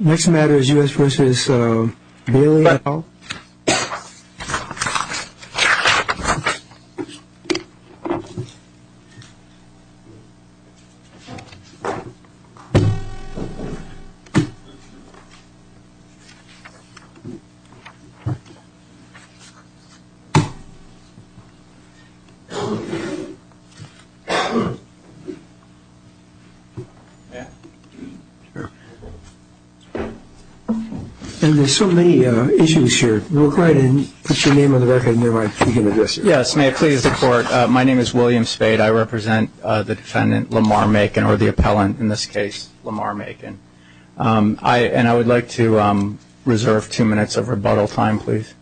Next matter is U.S. v. Bailey et al. And there's so many issues here. We'll go ahead and put your name on the record and then we'll begin with this. Yes, may it please the Court. My name is William Spade. I represent the defendant, Lamar Macon, or the appellant in this case, Lamar Macon. And I would like to reserve two minutes of rebuttal time, please.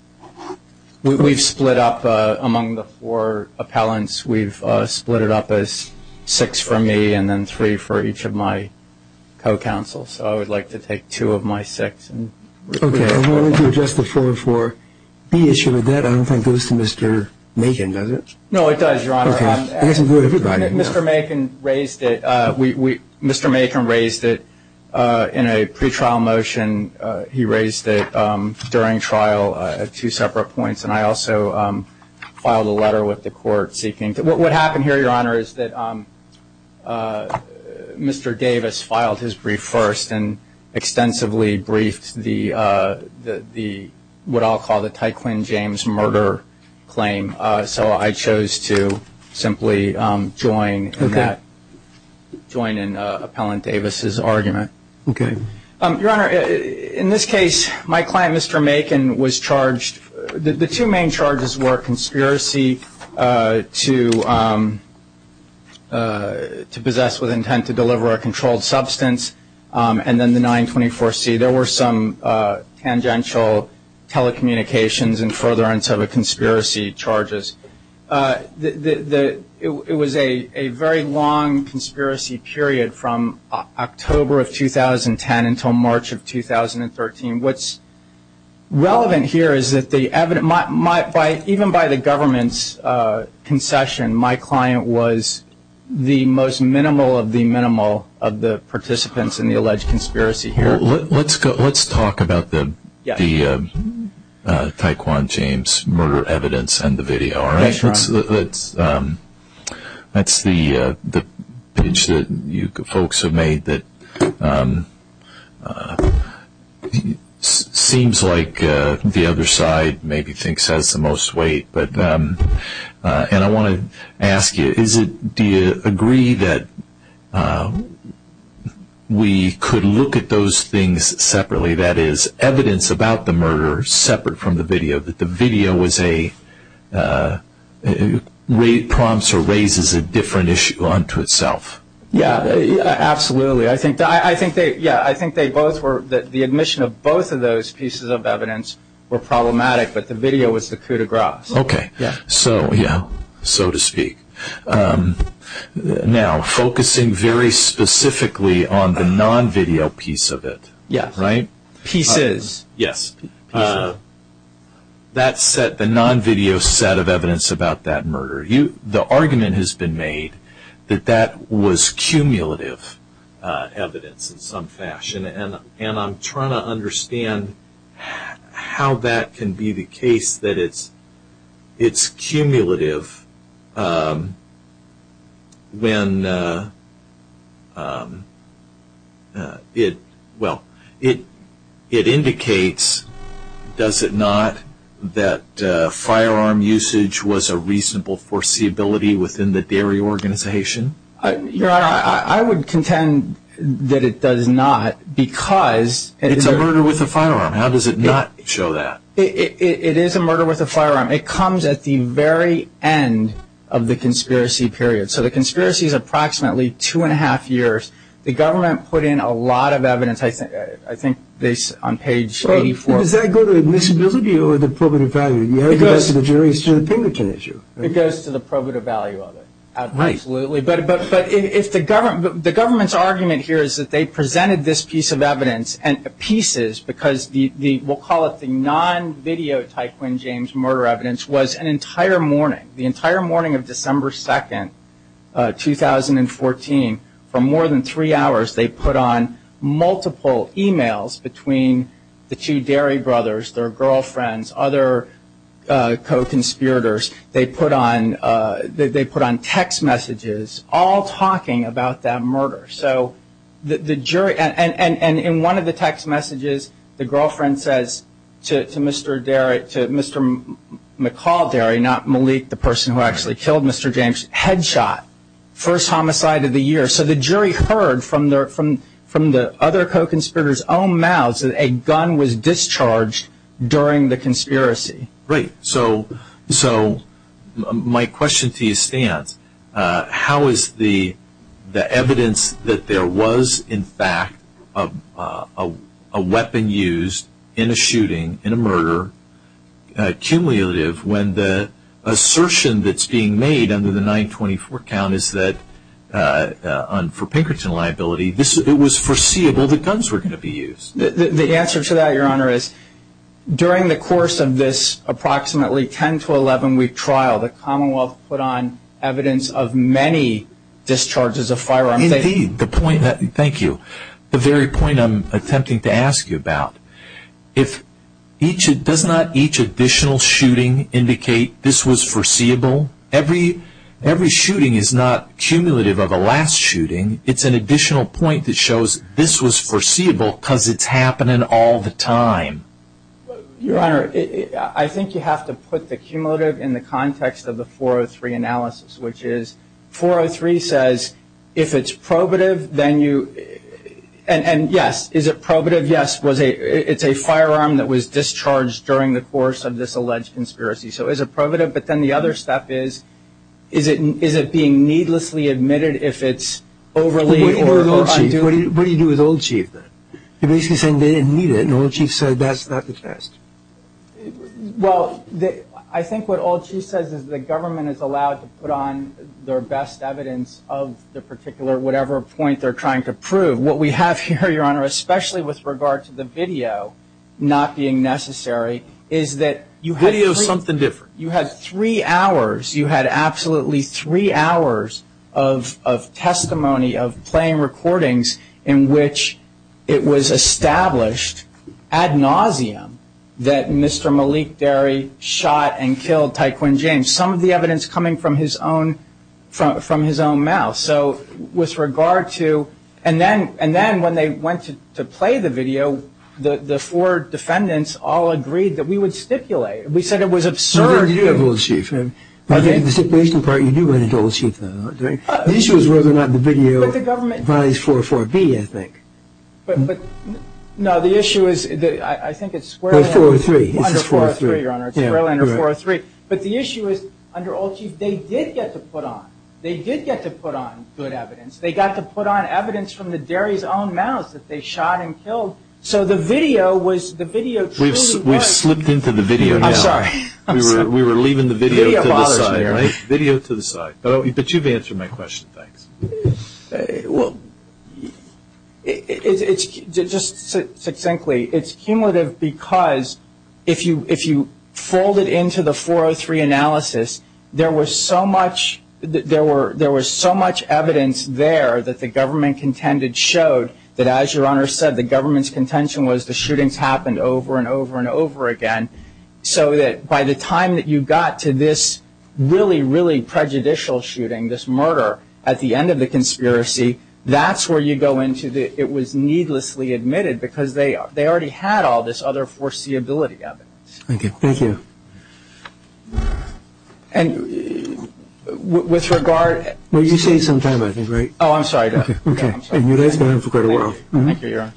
We've split up among the four appellants. We've split it up as six for me and then three for each of my co-counsels. So I would like to take two of my six. Okay. I wanted to address the 404B issue with that. I don't think it goes to Mr. Macon, does it? No, it does, Your Honor. Okay. It doesn't go to everybody. Mr. Macon raised it. Mr. Macon raised it in a pretrial motion. He raised it during trial at two separate points. And I also filed a letter with the court seeking. What happened here, Your Honor, is that Mr. Davis filed his brief first and extensively briefed the what I'll call the Tyquin James murder claim. So I chose to simply join in that, join in Appellant Davis's argument. Okay. Your Honor, in this case, my client, Mr. Macon, was charged. The two main charges were conspiracy to possess with intent to deliver a controlled substance and then the 924C. There were some tangential telecommunications and furtherance of a conspiracy charges. It was a very long conspiracy period from October of 2010 until March of 2013. What's relevant here is that even by the government's concession, my client was the most minimal of the minimal of the participants in the alleged conspiracy here. Let's talk about the Tyquin James murder evidence and the video. That's the pitch that you folks have made that seems like the other side maybe thinks has the most weight. And I want to ask you, do you agree that we could look at those things separately, that is evidence about the murder separate from the video, that the video prompts or raises a different issue unto itself? Yeah, absolutely. I think the admission of both of those pieces of evidence were problematic, but the video was the coup de grace. Okay. Yeah. So to speak. Now, focusing very specifically on the non-video piece of it. Yeah. Right? Pieces. Yes. That set the non-video set of evidence about that murder. The argument has been made that that was cumulative evidence in some fashion, and I'm trying to understand how that can be the case that it's cumulative when, well, it indicates, does it not, that firearm usage was a reasonable foreseeability within the dairy organization? Your Honor, I would contend that it does not because it is a murder with a firearm. How does it not show that? It is a murder with a firearm. It comes at the very end of the conspiracy period. So the conspiracy is approximately two and a half years. The government put in a lot of evidence, I think, based on page 84. Does that go to admissibility or the probative value? It goes to the jury's opinion issue. It goes to the probative value of it. Absolutely. But the government's argument here is that they presented this piece of evidence, and pieces because we'll call it the non-video Ty Quinn James murder evidence, was an entire morning. The entire morning of December 2nd, 2014, for more than three hours, they put on multiple e-mails between the two dairy brothers, their girlfriends, other co-conspirators. They put on text messages all talking about that murder. And in one of the text messages, the girlfriend says to Mr. McCall Dairy, not Malik, the person who actually killed Mr. James, headshot, first homicide of the year. So the jury heard from the other co-conspirators' own mouths that a gun was discharged during the conspiracy. Right. So my question to you stands. How is the evidence that there was, in fact, a weapon used in a shooting, in a murder, cumulative, when the assertion that's being made under the 924 count is that for Pinkerton liability, it was foreseeable that guns were going to be used? The answer to that, Your Honor, is during the course of this approximately 10 to 11-week trial, the Commonwealth put on evidence of many discharges of firearms. Indeed. Thank you. The very point I'm attempting to ask you about, does not each additional shooting indicate this was foreseeable? Every shooting is not cumulative of a last shooting. It's an additional point that shows this was foreseeable because it's happening all the time. Your Honor, I think you have to put the cumulative in the context of the 403 analysis, which is 403 says if it's probative, then you, and yes, is it probative? Yes, it's a firearm that was discharged during the course of this alleged conspiracy. So is it probative? But then the other step is, is it being needlessly admitted if it's overly or unduly? What do you do with Old Chief then? You're basically saying they didn't need it and Old Chief said that's not the test. Well, I think what Old Chief says is the government is allowed to put on their best evidence of the particular whatever point they're trying to prove. What we have here, Your Honor, especially with regard to the video not being necessary, is that you had three hours, you had absolutely three hours of testimony of playing recordings in which it was established ad nauseum that Mr. Malik Derry shot and killed Ty Quinn James. Some of the evidence coming from his own mouth. So with regard to, and then when they went to play the video, the four defendants all agreed that we would stipulate. We said it was absurd. You do have Old Chief. I think the stipulation part, you do have Old Chief. The issue is whether or not the video vies 404B, I think. No, the issue is, I think it's square line. It's 403. It says 403, Your Honor. It's square line or 403. But the issue is, under Old Chief, they did get to put on. They did get to put on good evidence. They got to put on evidence from the Derry's own mouth that they shot and killed. So the video was, the video truly was. We've slipped into the video now. I'm sorry. We were leaving the video to the side, right? Video to the side. But you've answered my question. Thanks. Well, just succinctly, it's cumulative because if you fold it into the 403 analysis, there was so much evidence there that the government contended showed that, as Your Honor said, the government's contention was the shootings happened over and over and over again. So that by the time that you got to this really, really prejudicial shooting, this murder, at the end of the conspiracy, that's where you go into it was needlessly admitted because they already had all this other foreseeability evidence. Thank you. And with regard. Well, you say sometime, I think, right? Oh, I'm sorry. Okay. Thank you, Your Honor.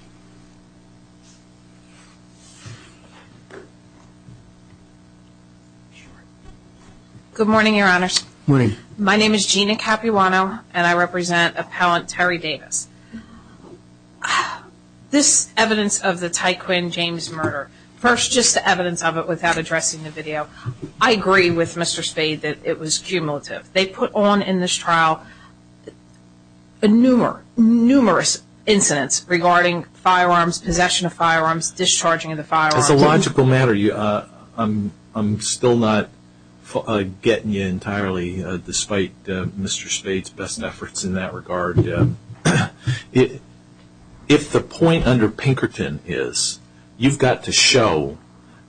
Good morning, Your Honors. Good morning. My name is Gina Capuano, and I represent appellant Terry Davis. This evidence of the Ty Quinn James murder, first just the evidence of it without addressing the video, I agree with Mr. Spade that it was cumulative. They put on in this trial numerous incidents regarding firearms, possession of firearms, discharging of the firearms. As a logical matter, I'm still not getting you entirely, despite Mr. Spade's best efforts in that regard. If the point under Pinkerton is you've got to show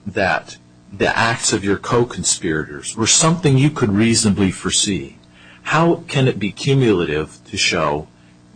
that the acts of your co-conspirators were something you could reasonably foresee, how can it be cumulative to show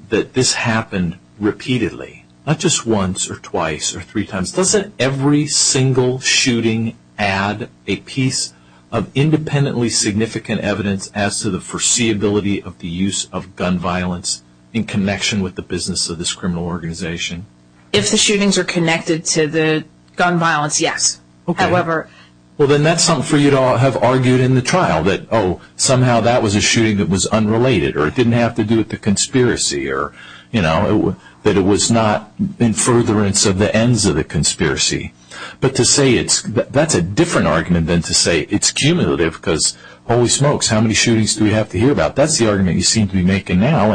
that this happened repeatedly, not just once or twice or three times? Doesn't every single shooting add a piece of independently significant evidence as to the foreseeability of the use of gun violence in connection with the business of this criminal organization? If the shootings are connected to the gun violence, yes. Okay. However. Well, then that's something for you to have argued in the trial, that, oh, somehow that was a shooting that was unrelated, or it didn't have to do with the conspiracy, or, you know, that it was not in furtherance of the ends of the conspiracy. But to say that's a different argument than to say it's cumulative because holy smokes, how many shootings do we have to hear about? That's the argument you seem to be making now.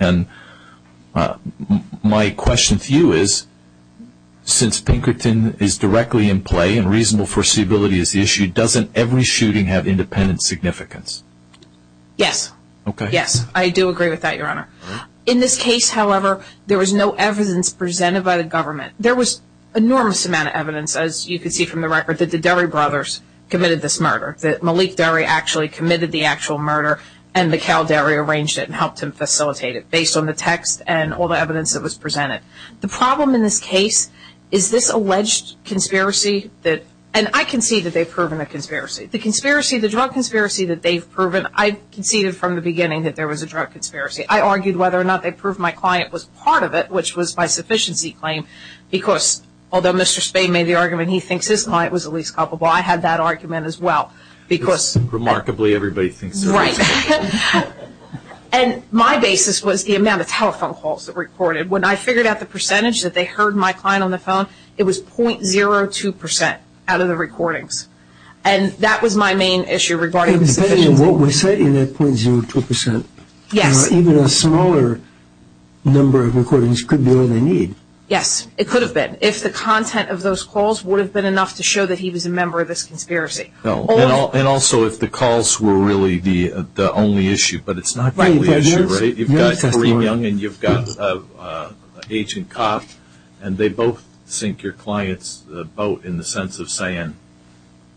And my question to you is, since Pinkerton is directly in play and reasonable foreseeability is the issue, doesn't every shooting have independent significance? Yes. Okay. Yes, I do agree with that, Your Honor. In this case, however, there was no evidence presented by the government. There was an enormous amount of evidence, as you can see from the record, that the Derry brothers committed this murder, that Malik Derry actually committed the actual murder and Mikhail Derry arranged it and helped him facilitate it, based on the text and all the evidence that was presented. The problem in this case is this alleged conspiracy that – and I concede that they've proven a conspiracy. The drug conspiracy that they've proven, I conceded from the beginning that there was a drug conspiracy. I argued whether or not they proved my client was part of it, which was my sufficiency claim, because although Mr. Spade made the argument he thinks his client was the least culpable, I had that argument as well because – Remarkably, everybody thinks so. Right. And my basis was the amount of telephone calls that were recorded. When I figured out the percentage that they heard my client on the phone, it was 0.02% out of the recordings. And that was my main issue regarding – Depending on what we're saying, that 0.02%. Yes. Even a smaller number of recordings could be all they need. Yes, it could have been, if the content of those calls would have been enough to show that he was a member of this conspiracy. And also if the calls were really the only issue, but it's not the only issue, right? You've got Kareem Young and you've got Agent Cop, and they both sink your client's boat in the sense of saying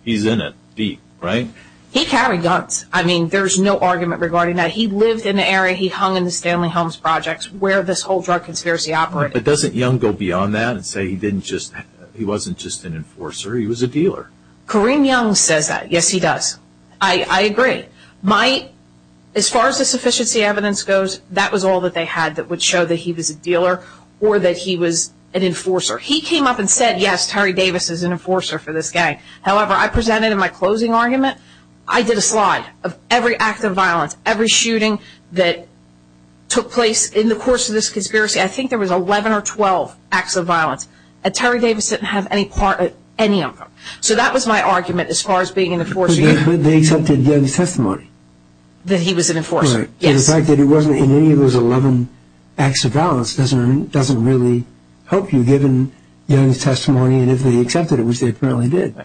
he's in it deep, right? He carried guns. I mean, there's no argument regarding that. He lived in the area he hung in the Stanley Helms projects where this whole drug conspiracy operated. But doesn't Young go beyond that and say he wasn't just an enforcer, he was a dealer? Kareem Young says that. Yes, he does. I agree. As far as the sufficiency evidence goes, that was all that they had that would show that he was a dealer or that he was an enforcer. He came up and said, yes, Terry Davis is an enforcer for this gang. However, I presented in my closing argument, I did a slide of every act of violence, every shooting that took place in the course of this conspiracy. I think there was 11 or 12 acts of violence, and Terry Davis didn't have any of them. So that was my argument as far as being an enforcer. But they accepted Young's testimony. That he was an enforcer, yes. The fact that he wasn't in any of those 11 acts of violence doesn't really help you, given Young's testimony and if they accepted it, which they apparently did.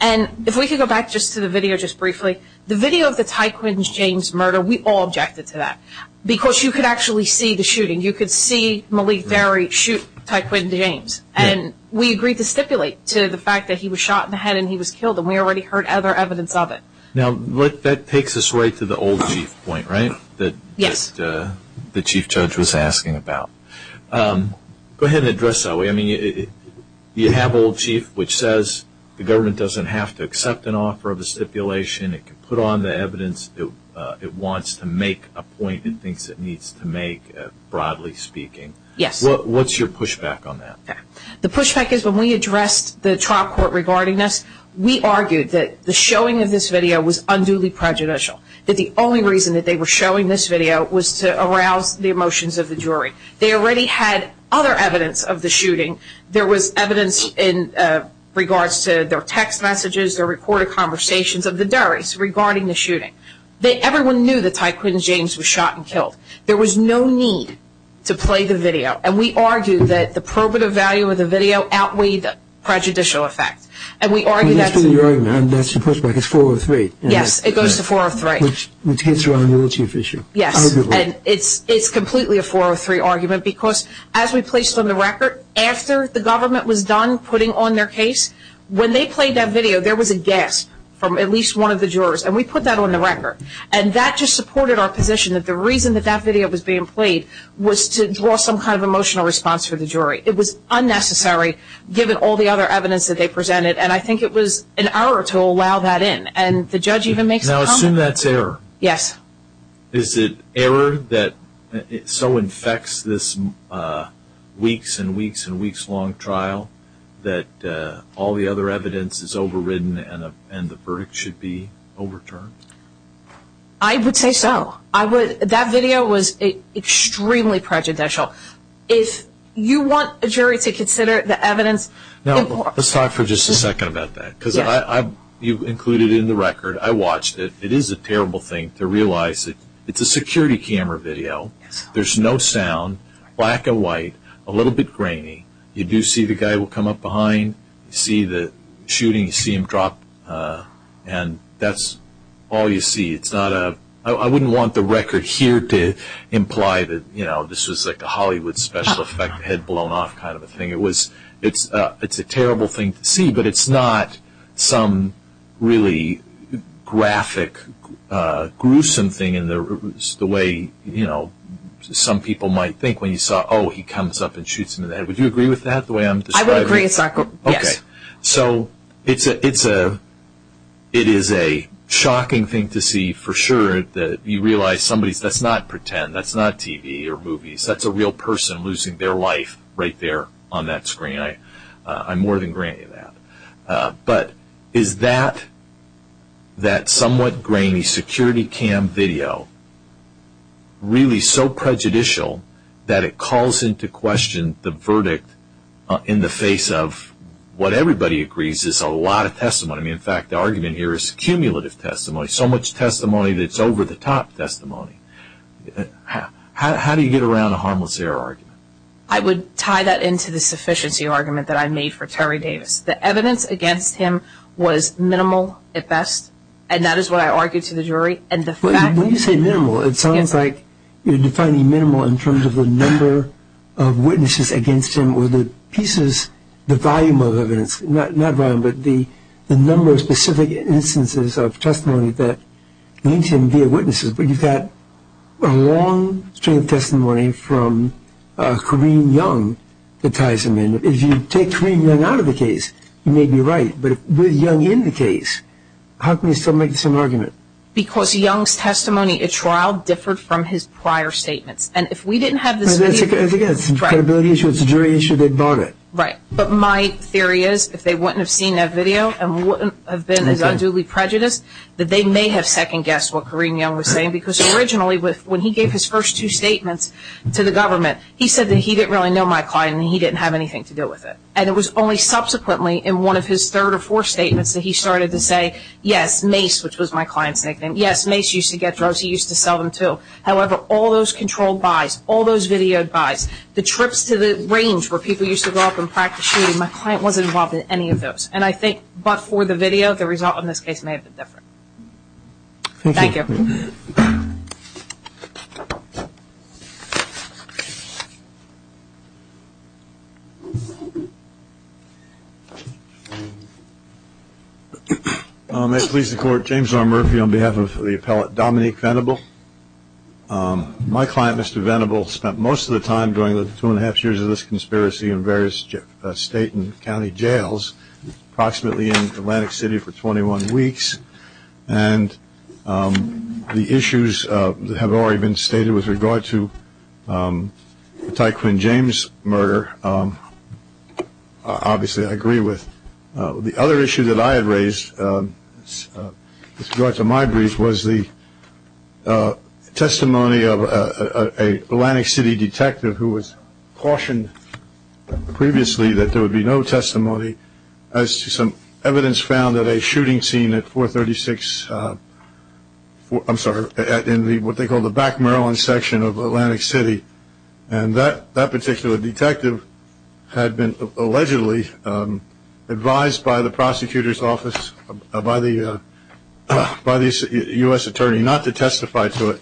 And if we could go back just to the video just briefly, the video of the Ty Quinn's James murder, we all objected to that. Because you could actually see the shooting. You could see Malik Terry shoot Ty Quinn James. And we agreed to stipulate to the fact that he was shot in the head and he was killed, and we already heard other evidence of it. Now, that takes us right to the old chief point, right? Yes. That the chief judge was asking about. Go ahead and address that. You have old chief, which says the government doesn't have to accept an offer of a stipulation. It can put on the evidence it wants to make a point and thinks it needs to make, broadly speaking. Yes. What's your pushback on that? The pushback is when we addressed the trial court regarding this, we argued that the showing of this video was unduly prejudicial. That the only reason that they were showing this video was to arouse the emotions of the jury. They already had other evidence of the shooting. There was evidence in regards to their text messages, their recorded conversations of the juries regarding the shooting. Everyone knew that Ty Quinn James was shot and killed. There was no need to play the video. And we argued that the probative value of the video outweighed the prejudicial effect. And we argued that's a pushback. It's 403. Yes. It goes to 403. Which hits around the old chief issue. Yes. It's completely a 403 argument because as we placed on the record, after the government was done putting on their case, when they played that video there was a gasp from at least one of the jurors. And we put that on the record. And that just supported our position that the reason that that video was being played was to draw some kind of emotional response from the jury. It was unnecessary given all the other evidence that they presented. And I think it was an error to allow that in. And the judge even makes a comment. Now assume that's error. Yes. Is it error that so infects this weeks and weeks and weeks long trial that all the other evidence is overridden and the verdict should be overturned? I would say so. That video was extremely prejudicial. If you want a jury to consider the evidence. Now let's talk for just a second about that. Because you've included it in the record. I watched it. It is a terrible thing to realize. It's a security camera video. There's no sound. Black and white. A little bit grainy. You do see the guy will come up behind. You see the shooting. You see him drop. And that's all you see. I wouldn't want the record here to imply that this was like a Hollywood special effect, head blown off kind of a thing. It's a terrible thing to see. But it's not some really graphic gruesome thing in the way, you know, some people might think when you saw, oh, he comes up and shoots him in the head. Would you agree with that, the way I'm describing it? I would agree, yes. Okay. So it is a shocking thing to see for sure that you realize somebody, that's not pretend. That's not TV or movies. That's a real person losing their life right there on that screen. I mean, I more than grant you that. But is that, that somewhat grainy security cam video really so prejudicial that it calls into question the verdict in the face of what everybody agrees is a lot of testimony. In fact, the argument here is cumulative testimony, so much testimony that it's over-the-top testimony. How do you get around a harmless error argument? I would tie that into the sufficiency argument that I made for Terry Davis. The evidence against him was minimal at best, and that is what I argued to the jury. When you say minimal, it sounds like you're defining minimal in terms of the number of witnesses against him or the pieces, the volume of evidence, not volume, but the number of specific instances of testimony that links him via witnesses. But you've got a long string of testimony from Corrine Young that ties him in. If you take Corrine Young out of the case, you may be right. But with Young in the case, how can you still make the same argument? Because Young's testimony at trial differed from his prior statements. And if we didn't have this video. I think it's a credibility issue. It's a jury issue. They bought it. Right. But my theory is if they wouldn't have seen that video and wouldn't have been as unduly prejudiced, that they may have second-guessed what Corrine Young was saying. Because originally when he gave his first two statements to the government, he said that he didn't really know my client and he didn't have anything to do with it. And it was only subsequently in one of his third or fourth statements that he started to say, yes, Mace, which was my client's nickname, yes, Mace used to get drugs. He used to sell them too. However, all those controlled buys, all those videoed buys, the trips to the range where people used to go up and practice shooting, my client wasn't involved in any of those. And I think but for the video, the result in this case may have been different. Thank you. Thank you. May it please the Court, James R. Murphy on behalf of the appellate Dominique Venable. My client, Mr. Venable, spent most of the time during the two and a half years of this conspiracy in various state and county jails, approximately in Atlantic City for 21 weeks. And the issues have already been stated with regard to the Ty Quinn James murder. Obviously I agree with the other issue that I had raised with regard to my brief was the testimony of a Atlantic City detective who was cautioned previously that there would be no testimony as to some evidence found at a shooting scene at 436, I'm sorry, in what they call the back Maryland section of Atlantic City. And that particular detective had been allegedly advised by the prosecutor's office, by the U.S. attorney not to testify to it.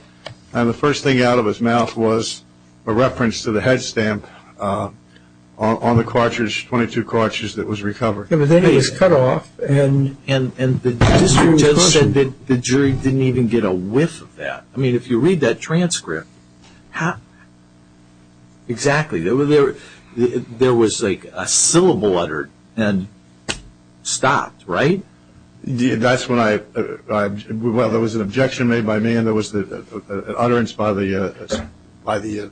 And the first thing out of his mouth was a reference to the head stamp on the cartridge, 22 cartridge that was recovered. And then it was cut off. And the jury didn't even get a whiff of that. I mean if you read that transcript, exactly. There was like a syllable uttered and stopped, right? That's when I, well there was an objection made by me and there was an utterance by the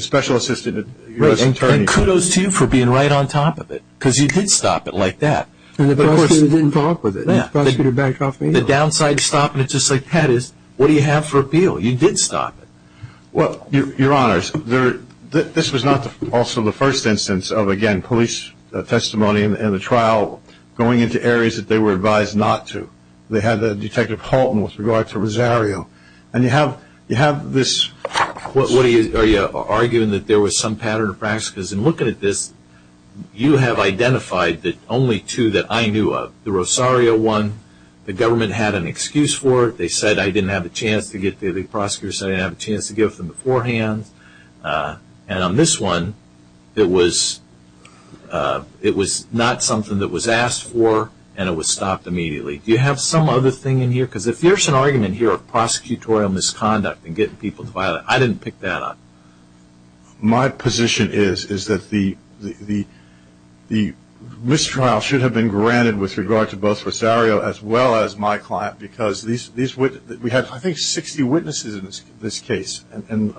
special assistant U.S. attorney. And kudos to you for being right on top of it because you did stop it like that. And the prosecutor didn't talk with it. The prosecutor backed off immediately. The downside to stopping it just like that is what do you have for appeal? You did stop it. Well, your honors, this was not also the first instance of, again, police testimony in the trial going into areas that they were advised not to. They had Detective Halton with regard to Rosario. And you have this. Are you arguing that there was some pattern of practice? Because in looking at this, you have identified only two that I knew of. The Rosario one, the government had an excuse for it. They said I didn't have a chance to get there. The prosecutors said I didn't have a chance to give them beforehand. And on this one, it was not something that was asked for and it was stopped immediately. Do you have some other thing in here? Because if there's an argument here of prosecutorial misconduct and getting people to file it, I didn't pick that up. My position is that the mistrial should have been granted with regard to both Rosario as well as my client because we had, I think, 60 witnesses in this case. And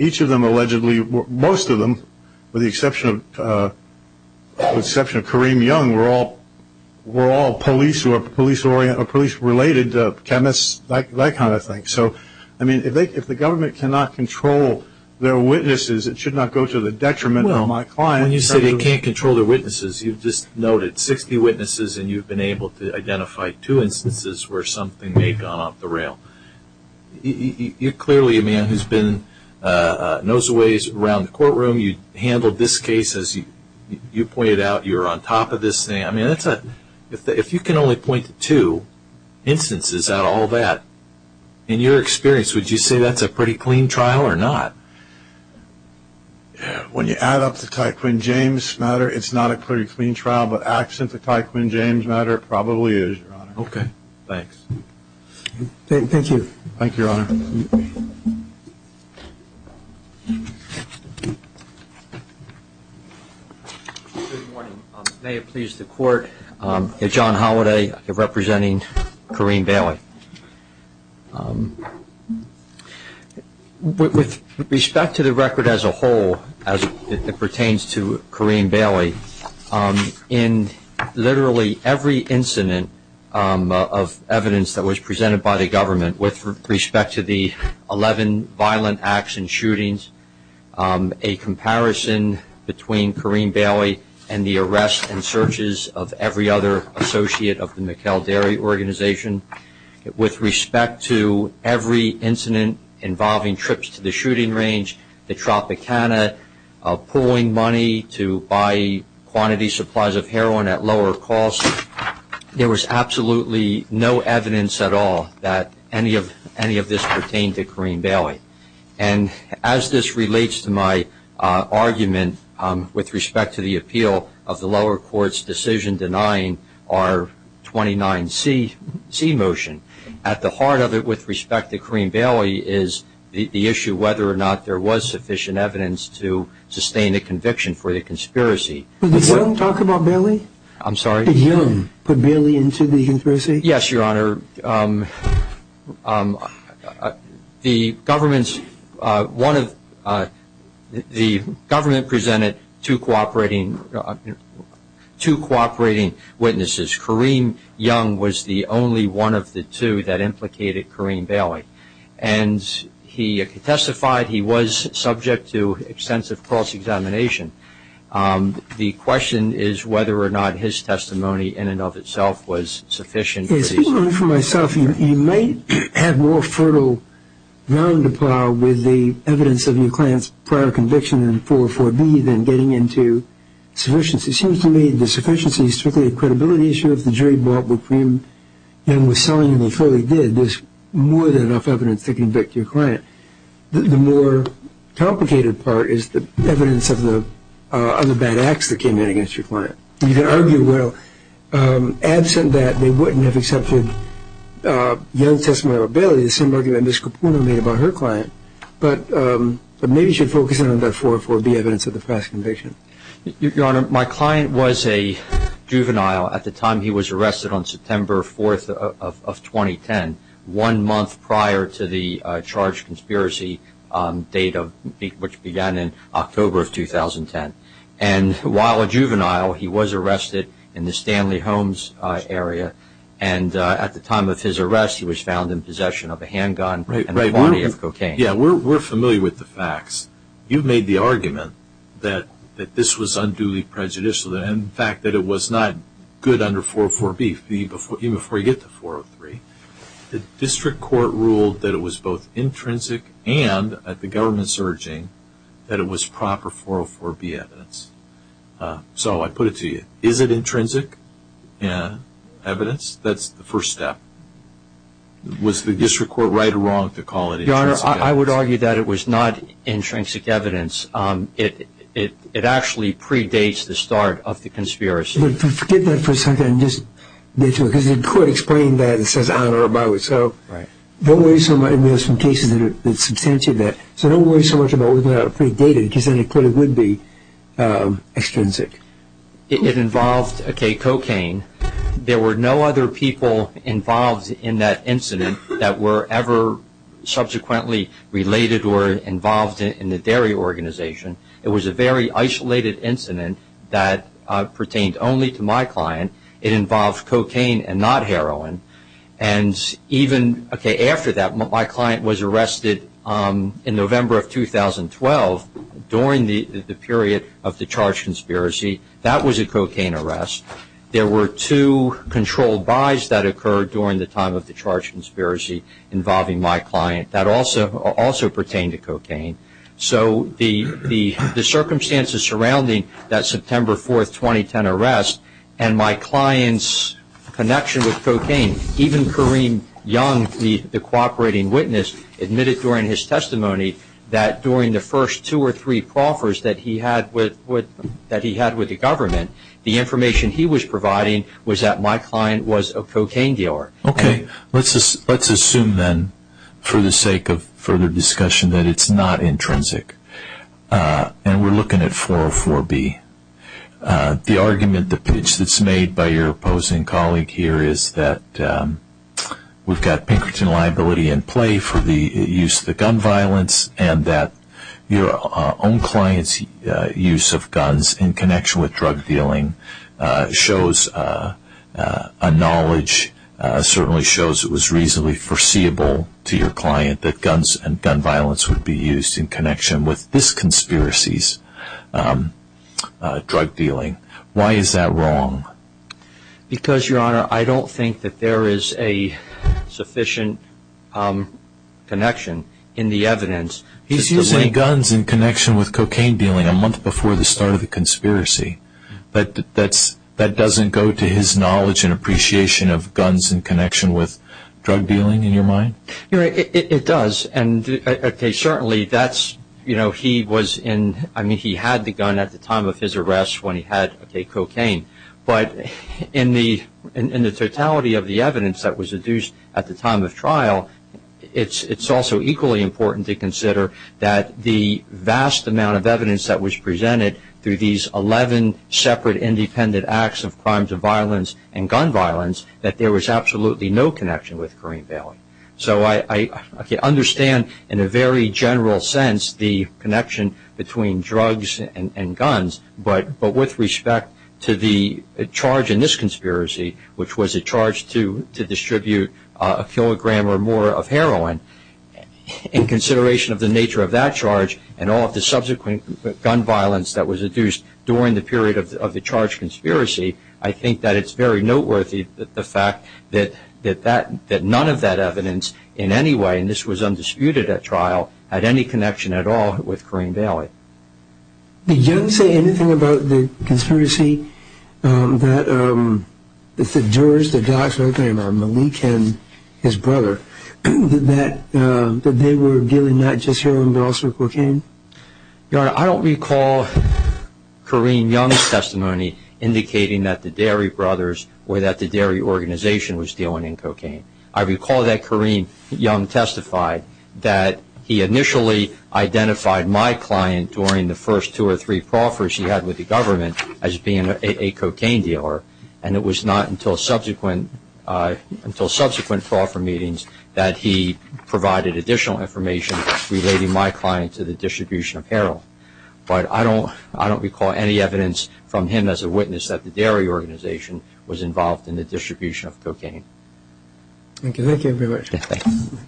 each of them allegedly, most of them, with the exception of Kareem Young, were all police-related, chemists, that kind of thing. So, I mean, if the government cannot control their witnesses, it should not go to the detriment of my client. Well, when you say they can't control their witnesses, you've just noted 60 witnesses and you've been able to identify two instances where something may have gone off the rail. You're clearly a man who's been nose-a-ways around the courtroom. You handled this case as you pointed out. You were on top of this thing. I mean, if you can only point to two instances out of all that, in your experience, would you say that's a pretty clean trial or not? When you add up the Ty Quinn James matter, it's not a pretty clean trial, but absent the Ty Quinn James matter, it probably is, Your Honor. Okay. Thanks. Thank you. Thank you, Your Honor. Good morning. May it please the Court, John Holliday representing Kareem Bailey. With respect to the record as a whole, as it pertains to Kareem Bailey, in literally every incident of evidence that was presented by the government with respect to the 11 violent acts and shootings, a comparison between Kareem Bailey and the arrests and searches of every other associate of the McHale Dairy Organization, with respect to every incident involving trips to the shooting range, the Tropicana, pulling money to buy quantity supplies of heroin at lower cost, there was absolutely no evidence at all that any of this pertained to Kareem Bailey. And as this relates to my argument with respect to the appeal of the lower court's decision denying our 29C motion, at the heart of it with respect to Kareem Bailey is the issue whether or not there was sufficient evidence to sustain a conviction for the conspiracy. Did you talk about Bailey? I'm sorry? Did you put Bailey into the conspiracy? Yes, Your Honor. Your Honor, the government presented two cooperating witnesses. Kareem Young was the only one of the two that implicated Kareem Bailey, and he testified he was subject to extensive cross-examination. The question is whether or not his testimony in and of itself was sufficient. Speaking only for myself, you might have more fertile ground to plow with the evidence of your client's prior conviction in 404B than getting into sufficiency. It seems to me the sufficiency is strictly a credibility issue. If the jury bought what Kareem Young was selling and they fully did, there's more than enough evidence to convict your client. The more complicated part is the evidence of the other bad acts that came in against your client. You can argue well. Absent that, they wouldn't have accepted Young's testimony or Bailey's, the same argument Ms. Caputo made about her client. But maybe you should focus on the 404B evidence of the past conviction. Your Honor, my client was a juvenile at the time he was arrested on September 4th of 2010, one month prior to the charged conspiracy date, which began in October of 2010. While a juvenile, he was arrested in the Stanley Homes area. At the time of his arrest, he was found in possession of a handgun and a body of cocaine. We're familiar with the facts. You made the argument that this was unduly prejudicial, and in fact that it was not good under 404B even before you get to 403. The district court ruled that it was both intrinsic and, at the government's urging, that it was proper 404B evidence. So I put it to you. Is it intrinsic evidence? That's the first step. Was the district court right or wrong to call it intrinsic evidence? Your Honor, I would argue that it was not intrinsic evidence. It actually predates the start of the conspiracy. But forget that for a second and just get to it. Because the court explained that and says, I don't know about it. So don't worry so much. There are some cases that substantiate that. So don't worry so much about whether or not it predated because then the court would be extrinsic. It involved cocaine. There were no other people involved in that incident that were ever subsequently related or involved in the dairy organization. It was a very isolated incident that pertained only to my client. It involved cocaine and not heroin. And even after that, my client was arrested in November of 2012 during the period of the charge conspiracy. That was a cocaine arrest. There were two controlled buys that occurred during the time of the charge conspiracy involving my client. That also pertained to cocaine. So the circumstances surrounding that September 4, 2010 arrest and my client's connection with cocaine, even Kareem Young, the cooperating witness, admitted during his testimony that during the first two or three proffers that he had with the government, the information he was providing was that my client was a cocaine dealer. Okay, let's assume then for the sake of further discussion that it's not intrinsic. And we're looking at 404B. The argument, the pitch that's made by your opposing colleague here is that we've got Pinkerton liability in play for the use of the gun violence and that your own client's use of guns in connection with drug dealing shows a knowledge, certainly shows it was reasonably foreseeable to your client that guns and gun violence would be used in connection with this conspiracy's drug dealing. Why is that wrong? Because, Your Honor, I don't think that there is a sufficient connection in the evidence. He's using guns in connection with cocaine dealing a month before the start of the conspiracy. But that doesn't go to his knowledge and appreciation of guns in connection with drug dealing in your mind? Your Honor, it does. And certainly that's, you know, he was in, I mean, he had the gun at the time of his arrest when he had cocaine. But in the totality of the evidence that was adduced at the time of trial, it's also equally important to consider that the vast amount of evidence that was presented through these 11 separate independent acts of crimes of violence and gun violence, that there was absolutely no connection with Kareem Bailey. So I understand in a very general sense the connection between drugs and guns, but with respect to the charge in this conspiracy, which was a charge to distribute a kilogram or more of heroin, in consideration of the nature of that charge and all of the subsequent gun violence that was adduced during the period of the charge conspiracy, I think that it's very noteworthy that the fact that none of that evidence in any way, and this was undisputed at trial, had any connection at all with Kareem Bailey. Did you say anything about the conspiracy that the jurors, the docs, Malik and his brother, that they were dealing not just heroin but also cocaine? Your Honor, I don't recall Kareem Young's testimony indicating that the Derry brothers or that the Derry organization was dealing in cocaine. I recall that Kareem Young testified that he initially identified my client during the first two or three proffers he had with the government as being a cocaine dealer, and it was not until subsequent proffer meetings that he provided additional information relating my client to the distribution of heroin. But I don't recall any evidence from him as a witness that the Derry organization was involved in the distribution of cocaine. Thank you very much. Thank you.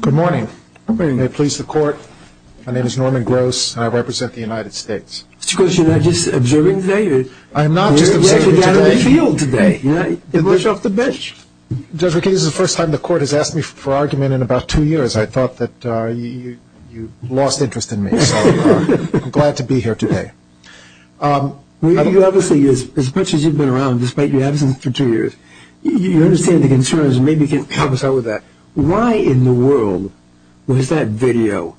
Good morning. Good morning. May it please the Court. My name is Norman Gross, and I represent the United States. Mr. Gross, you're not just observing today? I'm not just observing today. You're actually out in the field today. You know, you brush off the bench. Judge McKinney, this is the first time the Court has asked me for argument in about two years. I thought that you lost interest in me, so I'm glad to be here today. Well, you obviously, as much as you've been around, despite your absence for two years, you understand the concerns, and maybe you can help us out with that. Why in the world was that video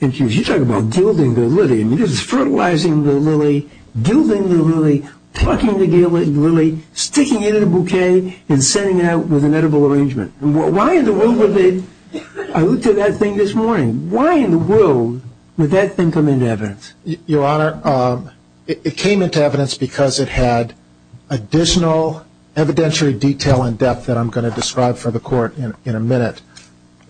infused? You talk about gilding the lily, and you're just fertilizing the lily, gilding the lily, plucking the lily, sticking it in a bouquet, and sending it out with an edible arrangement. Why in the world would they? I looked at that thing this morning. Why in the world would that thing come into evidence? Your Honor, it came into evidence because it had additional evidentiary detail and depth that I'm going to describe for the Court in a minute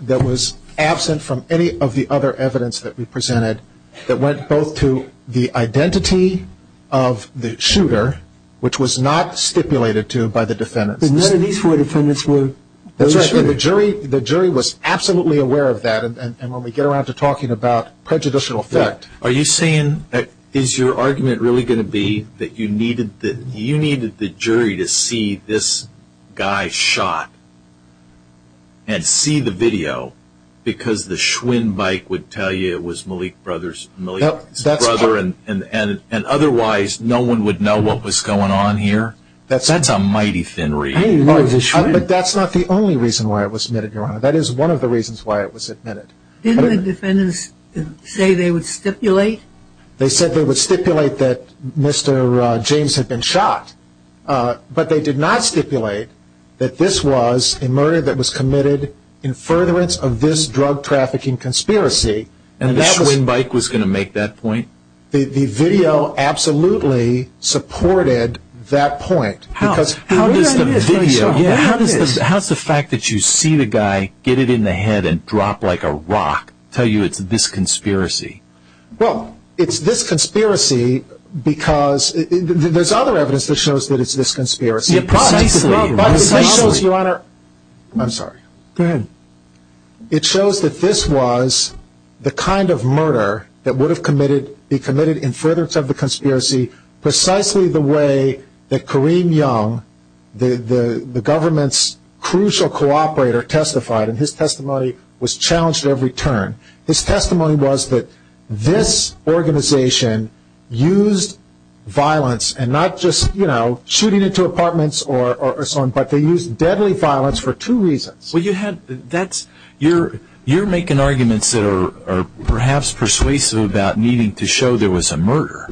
that was absent from any of the other evidence that we presented that went both to the identity of the shooter, which was not stipulated to by the defendants. None of these four defendants were those shooters? That's right. The jury was absolutely aware of that, and when we get around to talking about prejudicial effect. Are you saying, is your argument really going to be that you needed the jury to see this guy shot and see the video because the Schwinn bike would tell you it was Malik's brother and otherwise no one would know what was going on here? That's a mighty thin reed. I didn't know it was a Schwinn. But that's not the only reason why it was admitted, Your Honor. That is one of the reasons why it was admitted. Didn't the defendants say they would stipulate? They said they would stipulate that Mr. James had been shot, but they did not stipulate that this was a murder that was committed in furtherance of this drug trafficking conspiracy. And the Schwinn bike was going to make that point? The video absolutely supported that point. How does the fact that you see the guy, get it in the head and drop like a rock, tell you it's this conspiracy? Well, it's this conspiracy because there's other evidence that shows that it's this conspiracy. Precisely. But it shows, Your Honor, I'm sorry. Go ahead. It shows that this was the kind of murder that would have been committed in furtherance of the conspiracy precisely the way that Kareem Young, the government's crucial cooperator, testified, and his testimony was challenged at every turn. His testimony was that this organization used violence, and not just shooting into apartments or so on, but they used deadly violence for two reasons. Well, you're making arguments that are perhaps persuasive about needing to show there was a murder,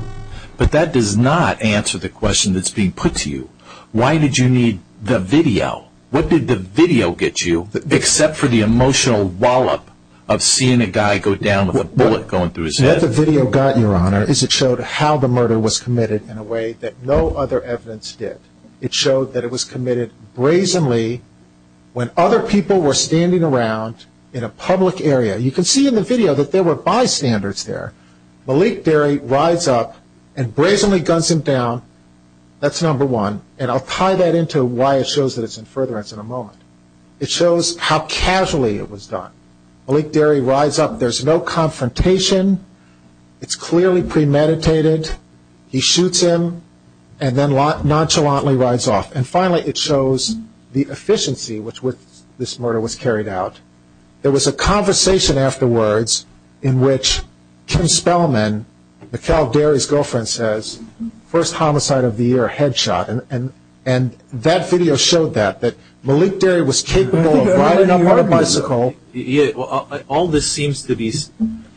but that does not answer the question that's being put to you. Why did you need the video? What did the video get you, except for the emotional wallop of seeing a guy go down with a bullet going through his head? What the video got, Your Honor, is it showed how the murder was committed in a way that no other evidence did. It showed that it was committed brazenly when other people were standing around in a public area. You can see in the video that there were bystanders there. Malik Derry rides up and brazenly guns him down. That's number one, and I'll tie that into why it shows that it's in furtherance in a moment. It shows how casually it was done. Malik Derry rides up. There's no confrontation. It's clearly premeditated. He shoots him, and then nonchalantly rides off. And finally, it shows the efficiency with which this murder was carried out. There was a conversation afterwards in which Kim Spellman, Mikhail Derry's girlfriend, says, first homicide of the year, headshot. And that video showed that, that Malik Derry was capable of riding up on a bicycle. All this seems to be,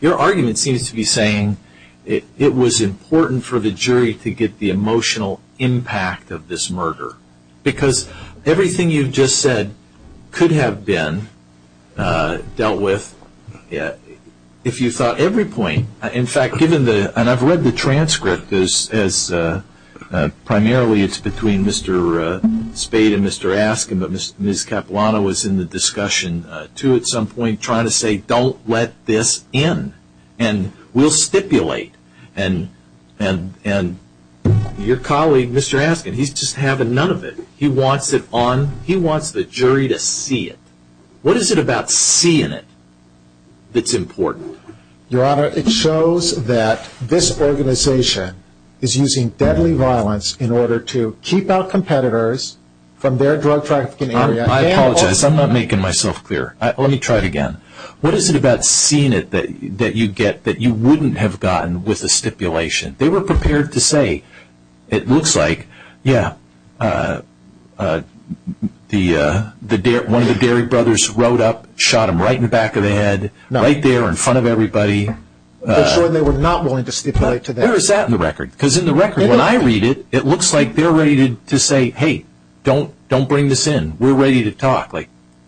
your argument seems to be saying it was important for the jury to get the emotional impact of this murder, because everything you've just said could have been dealt with if you thought every point. In fact, given the, and I've read the transcript as primarily it's between Mr. Spade and Mr. Askin, but Ms. Capilano was in the discussion too at some point trying to say, don't let this in, and we'll stipulate. And your colleague, Mr. Askin, he's just having none of it. He wants it on, he wants the jury to see it. What is it about seeing it that's important? Your Honor, it shows that this organization is using deadly violence in order to keep out competitors from their drug trafficking area. I apologize, I'm not making myself clear. Let me try it again. What is it about seeing it that you get that you wouldn't have gotten with a stipulation? They were prepared to say, it looks like, yeah, one of the Derry brothers rode up, shot him right in the back of the head, right there in front of everybody. They were not willing to stipulate to that. Where is that in the record? Because in the record, when I read it, it looks like they're ready to say, hey, don't bring this in. We're ready to talk.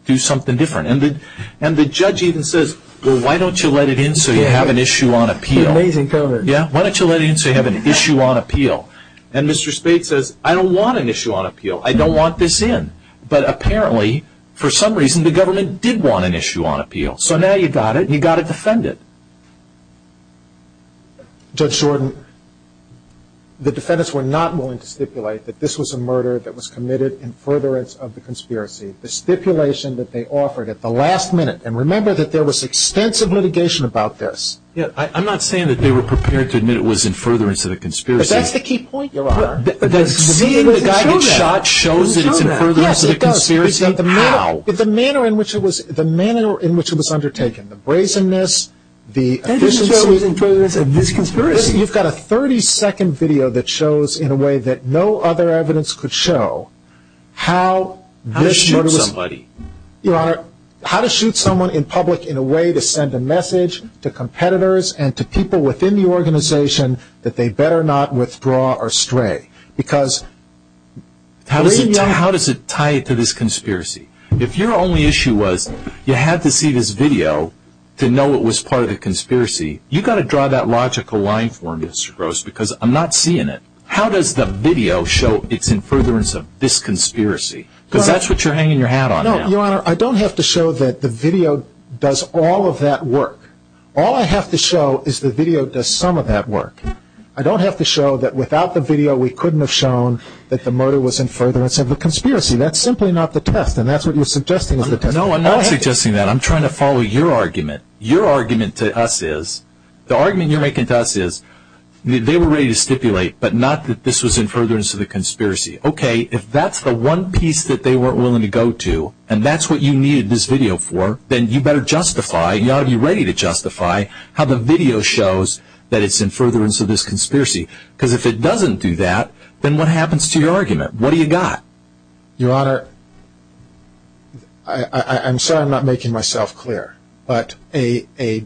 Do something different. And the judge even says, well, why don't you let it in so you have an issue on appeal? Why don't you let it in so you have an issue on appeal? And Mr. Spade says, I don't want an issue on appeal. I don't want this in. But apparently, for some reason, the government did want an issue on appeal. So now you've got it, and you've got to defend it. Judge Jordan, the defendants were not willing to stipulate that this was a murder that was committed in furtherance of the conspiracy. The stipulation that they offered at the last minute, and remember that there was extensive litigation about this. I'm not saying that they were prepared to admit it was in furtherance of the conspiracy. But that's the key point, Your Honor. Seeing the guy get shot shows that it's in furtherance of the conspiracy? Yes, it does. How? The manner in which it was undertaken, the brazenness, the efficiency. That doesn't show it was in furtherance of this conspiracy. You've got a 30-second video that shows in a way that no other evidence could show how this murder was. How to shoot somebody. Your Honor, how to shoot someone in public in a way to send a message to competitors and to people within the organization that they better not withdraw or stray. Because. How does it tie to this conspiracy? If your only issue was you had to see this video to know it was part of the conspiracy, you've got to draw that logical line for me, Mr. Gross, because I'm not seeing it. How does the video show it's in furtherance of this conspiracy? Because that's what you're hanging your hat on now. No, Your Honor, I don't have to show that the video does all of that work. All I have to show is the video does some of that work. I don't have to show that without the video we couldn't have shown that the murder was in furtherance of the conspiracy. That's simply not the test, and that's what you're suggesting is the test. No, I'm not suggesting that. I'm trying to follow your argument. Your argument to us is, the argument you're making to us is, they were ready to stipulate, but not that this was in furtherance of the conspiracy. Okay, if that's the one piece that they weren't willing to go to, and that's what you needed this video for, then you better justify, you ought to be ready to justify, how the video shows that it's in furtherance of this conspiracy. Because if it doesn't do that, then what happens to your argument? What do you got? Your Honor, I'm sorry I'm not making myself clear, but a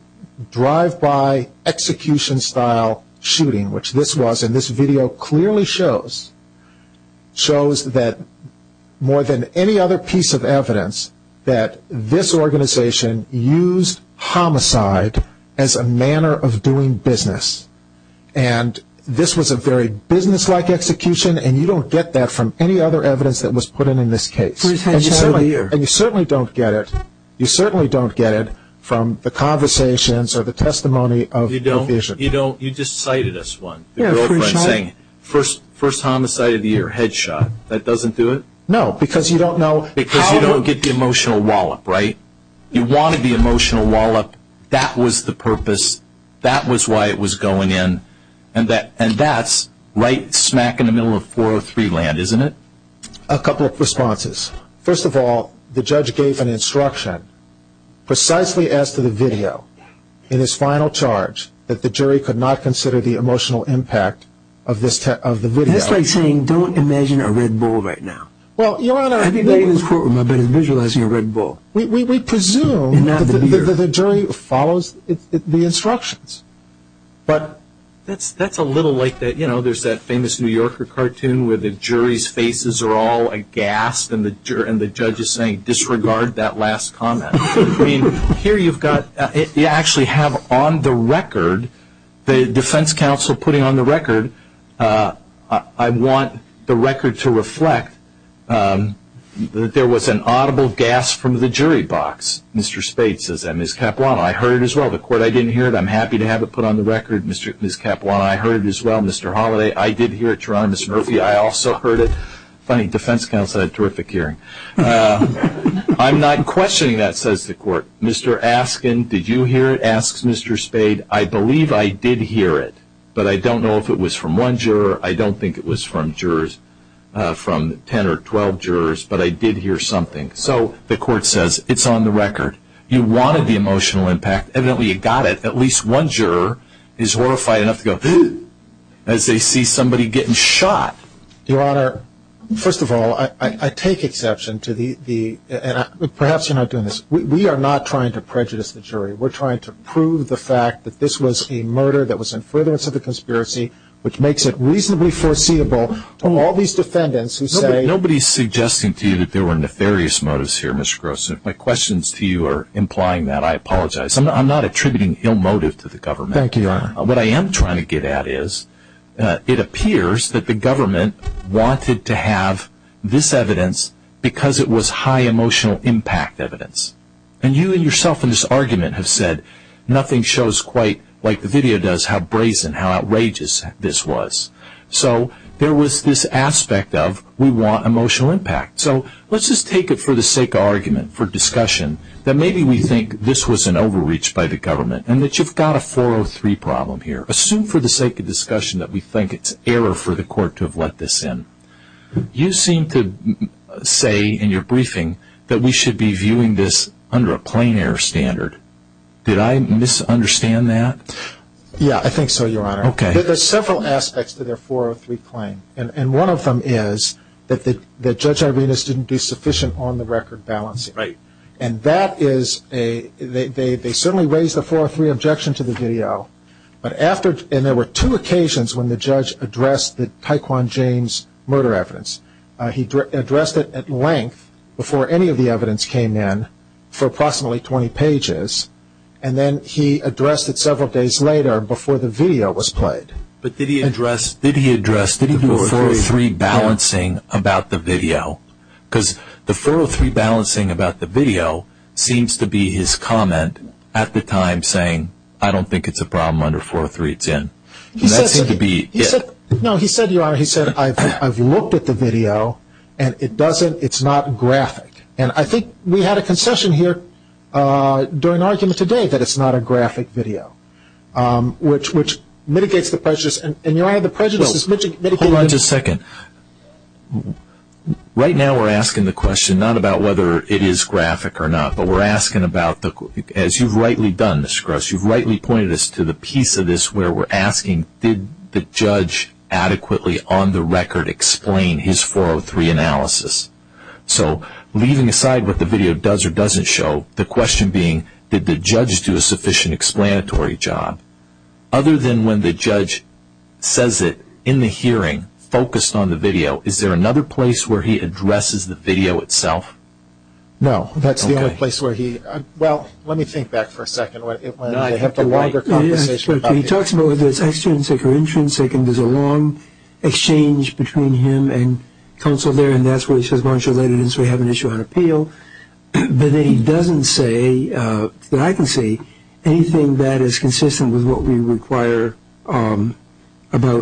drive-by execution style shooting, which this was, and this video clearly shows, shows that more than any other piece of evidence, that this organization used homicide as a manner of doing business. And this was a very business-like execution, and you don't get that from any other evidence that was put in in this case. And you certainly don't get it, you certainly don't get it from the conversations or the testimony of your vision. You don't, you don't, you just cited us one, the girlfriend saying, first homicide of the year, head shot. That doesn't do it? No, because you don't know, because you don't get the emotional wallop, right? You wanted the emotional wallop, that was the purpose, that was why it was going in, and that's right smack in the middle of 403 land, isn't it? A couple of responses. First of all, the judge gave an instruction, precisely as to the video, in his final charge, that the jury could not consider the emotional impact of the video. That's like saying, don't imagine a red bull right now. Well, Your Honor, I've been in this courtroom, I've been visualizing a red bull. We presume that the jury follows the instructions. But that's a little like, you know, there's that famous New Yorker cartoon where the jury's faces are all aghast and the judge is saying, disregard that last comment. I mean, here you've got, you actually have on the record, the defense counsel putting on the record, I want the record to reflect that there was an audible gasp from the jury box. Mr. Spade says that. Ms. Capuano, I heard it as well. The court, I didn't hear it. I'm happy to have it put on the record, Ms. Capuano. I heard it as well, Mr. Holliday. I did hear it, Your Honor. Mr. Murphy, I also heard it. Funny, defense counsel had a terrific hearing. I'm not questioning that, says the court. Mr. Askin, did you hear it, asks Mr. Spade. I believe I did hear it, but I don't know if it was from one juror. I don't think it was from 10 or 12 jurors, but I did hear something. So the court says, it's on the record. You wanted the emotional impact. Evidently you got it. At least one juror is horrified enough to go, as they see somebody getting shot. Your Honor, first of all, I take exception to the, and perhaps you're not doing this, we are not trying to prejudice the jury. We're trying to prove the fact that this was a murder that was in furtherance of the conspiracy, which makes it reasonably foreseeable to all these defendants who say. Nobody is suggesting to you that there were nefarious motives here, Mr. Gross. If my questions to you are implying that, I apologize. I'm not attributing ill motive to the government. Thank you, Your Honor. What I am trying to get at is, it appears that the government wanted to have this evidence because it was high emotional impact evidence. And you and yourself in this argument have said, nothing shows quite like the video does, how brazen, how outrageous this was. So there was this aspect of, we want emotional impact. So let's just take it for the sake of argument, for discussion, that maybe we think this was an overreach by the government, and that you've got a 403 problem here. Assume for the sake of discussion that we think it's error for the court to have let this in. You seem to say in your briefing that we should be viewing this under a plain error standard. Did I misunderstand that? Yeah, I think so, Your Honor. Okay. There are several aspects to their 403 claim. And one of them is that Judge Irenas didn't do sufficient on-the-record balancing. Right. And that is a, they certainly raised the 403 objection to the video. But after, and there were two occasions when the judge addressed the Taekwon James murder evidence. He addressed it at length before any of the evidence came in for approximately 20 pages. And then he addressed it several days later before the video was played. But did he address, did he address, did he do a 403 balancing about the video? Because the 403 balancing about the video seems to be his comment at the time saying, I don't think it's a problem under 403, it's in. And that seemed to be it. No, he said, Your Honor, he said, I've looked at the video and it doesn't, it's not graphic. And I think we had a concession here during argument today that it's not a graphic video, which mitigates the prejudice. And Your Honor, the prejudice is mitigating. Hold on just a second. Right now we're asking the question not about whether it is graphic or not, but we're asking about, as you've rightly done, Mr. Gross, you've rightly pointed us to the piece of this where we're asking, did the judge adequately on the record explain his 403 analysis? So leaving aside what the video does or doesn't show, the question being, did the judge do a sufficient explanatory job? Other than when the judge says it in the hearing, focused on the video, is there another place where he addresses the video itself? No, that's the only place where he, well, let me think back for a second. I have a longer conversation about this. He talks about whether it's extrinsic or intrinsic, and there's a long exchange between him and counsel there, and that's where he says, well, I should let it in so we have an issue on appeal. But then he doesn't say, that I can say, anything that is consistent with what we require about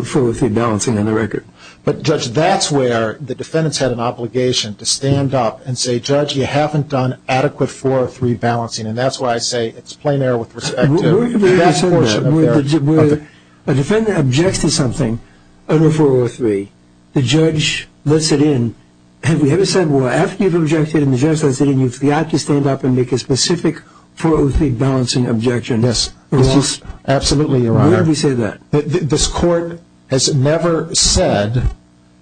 403 balancing on the record. But, Judge, that's where the defendant's had an obligation to stand up and say, Judge, you haven't done adequate 403 balancing, and that's why I say it's plain error with respect to that portion of the argument. A defendant objects to something under 403. The judge lets it in. Have you ever said, well, after you've objected and the judge lets it in, you've got to stand up and make a specific 403 balancing objection? Yes, absolutely, Your Honor. Where have you said that? This Court has never said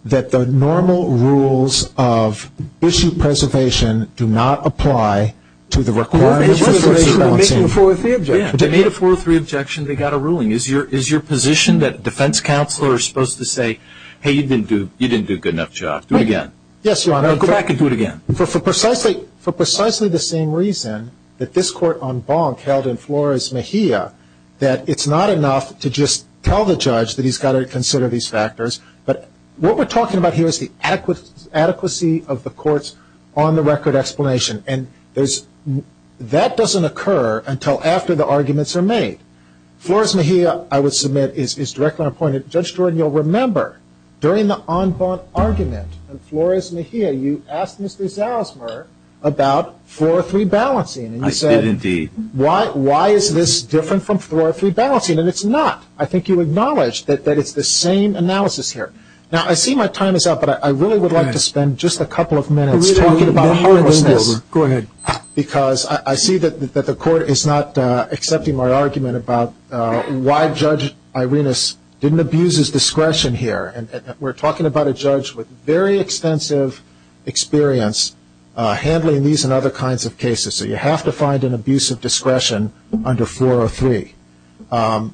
that the normal rules of issue preservation do not apply to the requirements of preservation balancing. They made a 403 objection. They made a 403 objection. They got a ruling. Is your position that defense counsel are supposed to say, hey, you didn't do a good enough job? Do it again. Yes, Your Honor. Go back and do it again. For precisely the same reason that this Court on Bonk held in Flores Mejia, that it's not enough to just tell the judge that he's got to consider these factors, but what we're talking about here is the adequacy of the Court's on-the-record explanation, and that doesn't occur until after the arguments are made. Flores Mejia, I would submit, is directly appointed. Judge Jordan, you'll remember during the on-Bonk argument in Flores Mejia, you asked Mr. Zarosmer about 403 balancing. I did, indeed. Why is this different from 403 balancing? And it's not. I think you acknowledged that it's the same analysis here. Now, I see my time is up, but I really would like to spend just a couple of minutes talking about homelessness. Go ahead. Because I see that the Court is not accepting my argument about why Judge Irenas didn't abuse his discretion here. We're talking about a judge with very extensive experience handling these and other kinds of cases, so you have to find an abuse of discretion under 403. And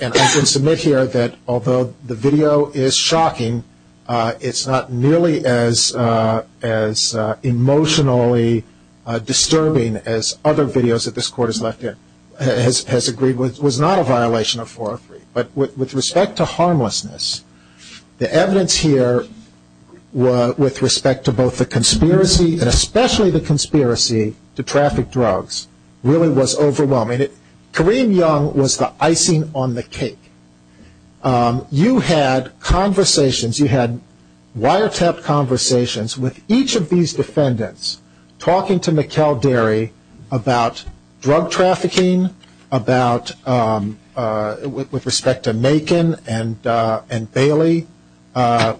I can submit here that although the video is shocking, it's not nearly as emotionally disturbing as other videos that this Court has agreed with. It was not a violation of 403. But with respect to harmlessness, the evidence here with respect to both the conspiracy and especially the conspiracy to traffic drugs really was overwhelming. Kareem Young was the icing on the cake. You had conversations. You had wiretapped conversations with each of these defendants, talking to Mikkel Derry about drug trafficking, with respect to Nacon and Bailey,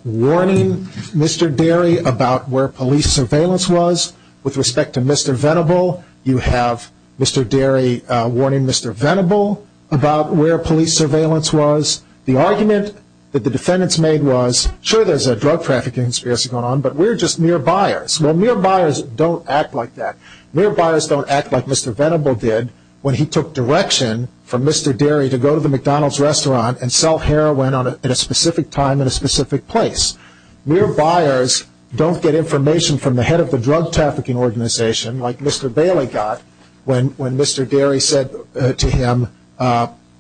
warning Mr. Derry about where police surveillance was. With respect to Mr. Venable, you have Mr. Derry warning Mr. Venable about where police surveillance was. The argument that the defendants made was, sure, there's a drug trafficking conspiracy going on, but we're just mere buyers. Well, mere buyers don't act like that. Mere buyers don't act like Mr. Venable did when he took direction from Mr. Derry to go to the McDonald's restaurant and sell heroin at a specific time in a specific place. Mere buyers don't get information from the head of the drug trafficking organization, like Mr. Bailey got when Mr. Derry said to him,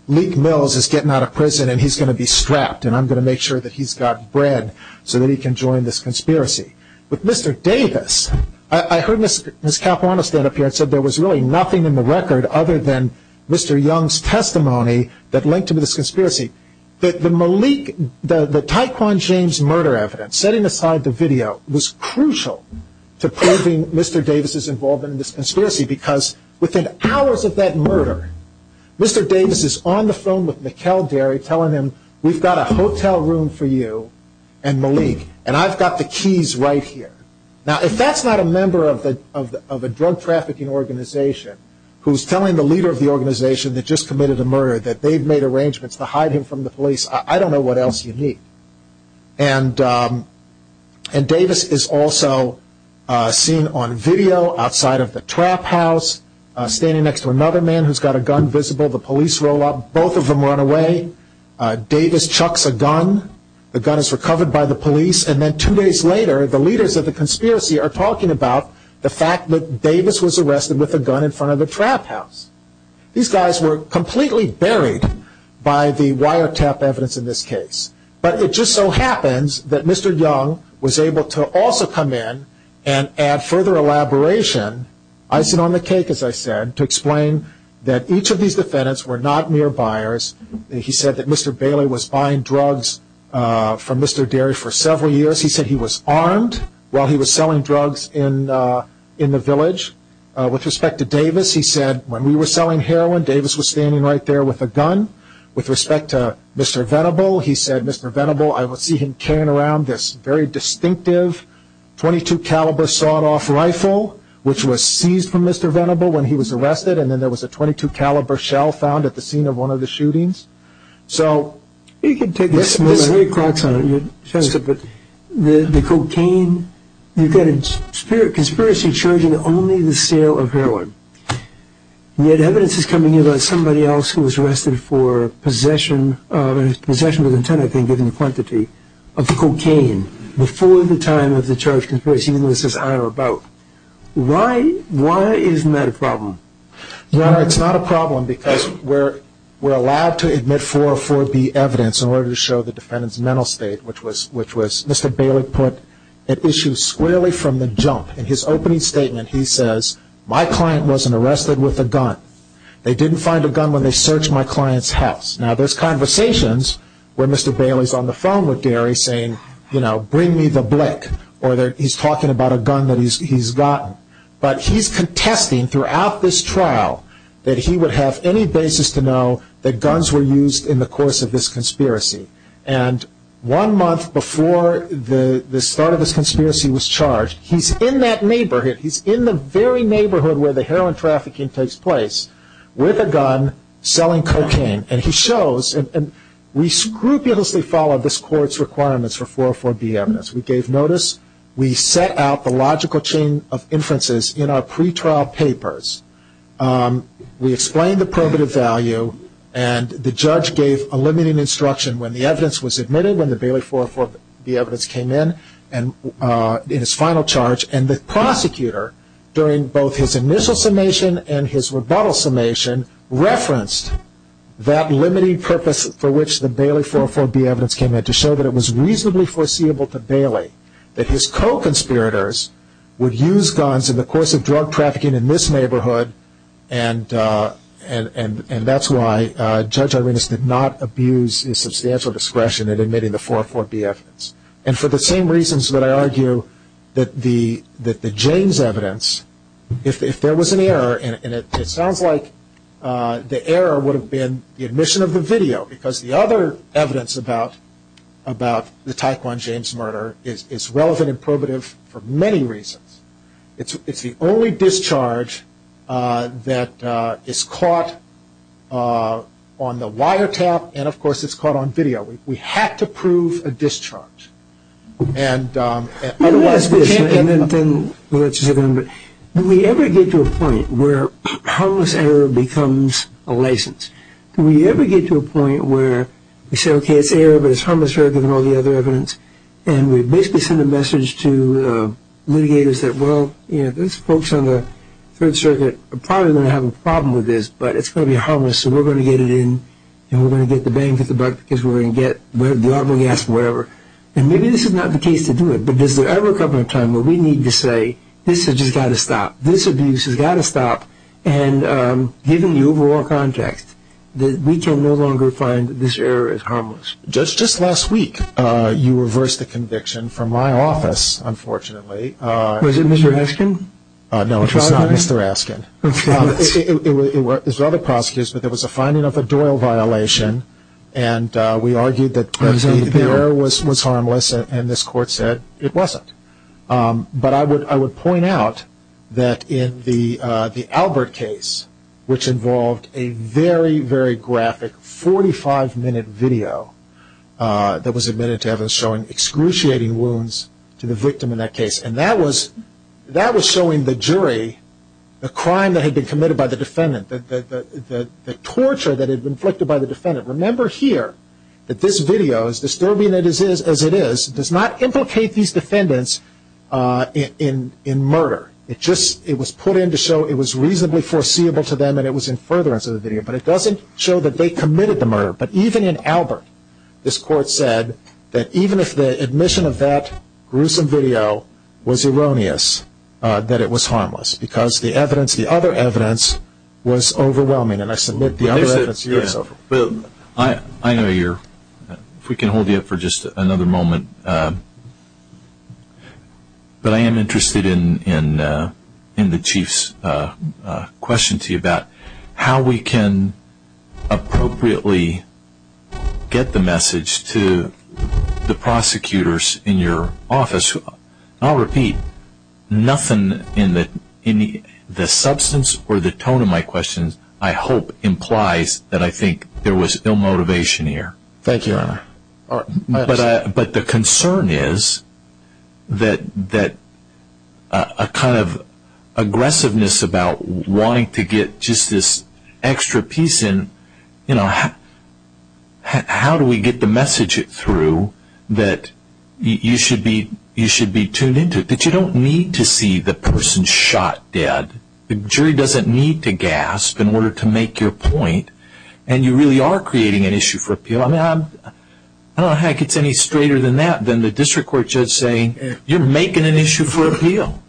Leek Mills is getting out of prison and he's going to be strapped, and I'm going to make sure that he's got bread so that he can join this conspiracy. With Mr. Davis, I heard Ms. Capuano stand up here and said there was really nothing in the record other than Mr. Young's testimony that linked him to this conspiracy. The Tyquan James murder evidence, setting aside the video, was crucial to proving Mr. Davis' involvement in this conspiracy, because within hours of that murder, Mr. Davis is on the phone with Mikkel Derry telling him, we've got a hotel room for you and Malik, and I've got the keys right here. Now if that's not a member of a drug trafficking organization who's telling the leader of the organization that just committed a murder that they've made arrangements to hide him from the police, I don't know what else you need. And Davis is also seen on video outside of the trap house, standing next to another man who's got a gun visible, the police roll up, both of them run away, Davis chucks a gun, the gun is recovered by the police, and then two days later the leaders of the conspiracy are talking about the fact that Davis was arrested with a gun in front of the trap house. These guys were completely buried by the wiretap evidence in this case. But it just so happens that Mr. Young was able to also come in and add further elaboration, icing on the cake as I said, to explain that each of these defendants were not mere buyers. He said that Mr. Bailey was buying drugs from Mr. Derry for several years. He said he was armed while he was selling drugs in the village. With respect to Davis, he said, when we were selling heroin, Davis was standing right there with a gun. With respect to Mr. Venable, he said, Mr. Venable, I see him carrying around this very distinctive .22 caliber sawed-off rifle, which was seized from Mr. Venable when he was arrested, and then there was a .22 caliber shell found at the scene of one of the shootings. So you could take this. There are eight clocks on it. The cocaine. You've got a conspiracy charge in only the sale of heroin, yet evidence is coming in about somebody else who was arrested for possession, possession with intent, I think, given the quantity, of cocaine, before the time of the charged conspiracy, even though it says on or about. Why isn't that a problem? Well, it's not a problem because we're allowed to admit 404B evidence in order to show the defendant's mental state, which was Mr. Bailey put at issue squarely from the jump. In his opening statement, he says, my client wasn't arrested with a gun. They didn't find a gun when they searched my client's house. Now, there's conversations where Mr. Bailey's on the phone with Derry saying, you know, bring me the blick, or he's talking about a gun that he's gotten. But he's contesting throughout this trial that he would have any basis to know that guns were used in the course of this conspiracy. And one month before the start of this conspiracy was charged, he's in that neighborhood. He's in the very neighborhood where the heroin trafficking takes place with a gun selling cocaine. And he shows, and we scrupulously followed this court's requirements for 404B evidence. We gave notice. We set out the logical chain of inferences in our pretrial papers. We explained the probative value. And the judge gave a limiting instruction when the evidence was admitted, when the Bailey 404B evidence came in, in its final charge. And the prosecutor, during both his initial summation and his rebuttal summation, referenced that limiting purpose for which the Bailey 404B evidence came in to show that it was reasonably foreseeable to Bailey that his co-conspirators would use guns in the course of drug trafficking in this neighborhood. And that's why Judge Arenas did not abuse his substantial discretion in admitting the 404B evidence. And for the same reasons that I argue that the James evidence, if there was an error, and it sounds like the error would have been the admission of the video because the other evidence about the Taekwon James murder is relevant and probative for many reasons. It's the only discharge that is caught on the wiretap and, of course, it's caught on video. We had to prove a discharge. Otherwise we can't get them. Do we ever get to a point where harmless error becomes a license? Do we ever get to a point where we say, okay, it's error, but it's harmless error given all the other evidence, and we basically send a message to litigators that, well, these folks on the Third Circuit are probably going to have a problem with this, but it's going to be harmless, so we're going to get it in, and we're going to get the bang for the buck because we're going to get the armor we asked for, whatever. And maybe this is not the case to do it, but is there ever a couple of times where we need to say, this has just got to stop, this abuse has got to stop, and given the overall context that we can no longer find this error as harmless? Judge, just last week you reversed a conviction from my office, unfortunately. Was it Mr. Askin? No, it was not Mr. Askin. It was other prosecutors, but there was a finding of a Doyle violation, and we argued that the error was harmless, and this Court said it wasn't. But I would point out that in the Albert case, which involved a very, very graphic 45-minute video that was admitted to evidence showing excruciating wounds to the victim in that case, and that was showing the jury the crime that had been committed by the defendant, the torture that had been inflicted by the defendant. Remember here that this video, as disturbing as it is, does not implicate these defendants in murder. It was put in to show it was reasonably foreseeable to them, and it was in furtherance of the video, but it doesn't show that they committed the murder. But even in Albert, this Court said that even if the admission of that gruesome video was erroneous, that it was harmless because the evidence, the other evidence, was overwhelming, and I submit the other evidence here is so. I know you're, if we can hold you up for just another moment, but I am interested in the Chief's question to you about how we can appropriately get the message to the prosecutors in your office. I'll repeat, nothing in the substance or the tone of my questions, I hope, implies that I think there was ill motivation here. But the concern is that a kind of aggressiveness about wanting to get just this extra piece in, you know, how do we get the message through that you should be tuned in to it, that you don't need to see the person shot dead. The jury doesn't need to gasp in order to make your point, and you really are creating an issue for appeal. I don't know how it gets any straighter than that than the district court judge saying, you're making an issue for appeal.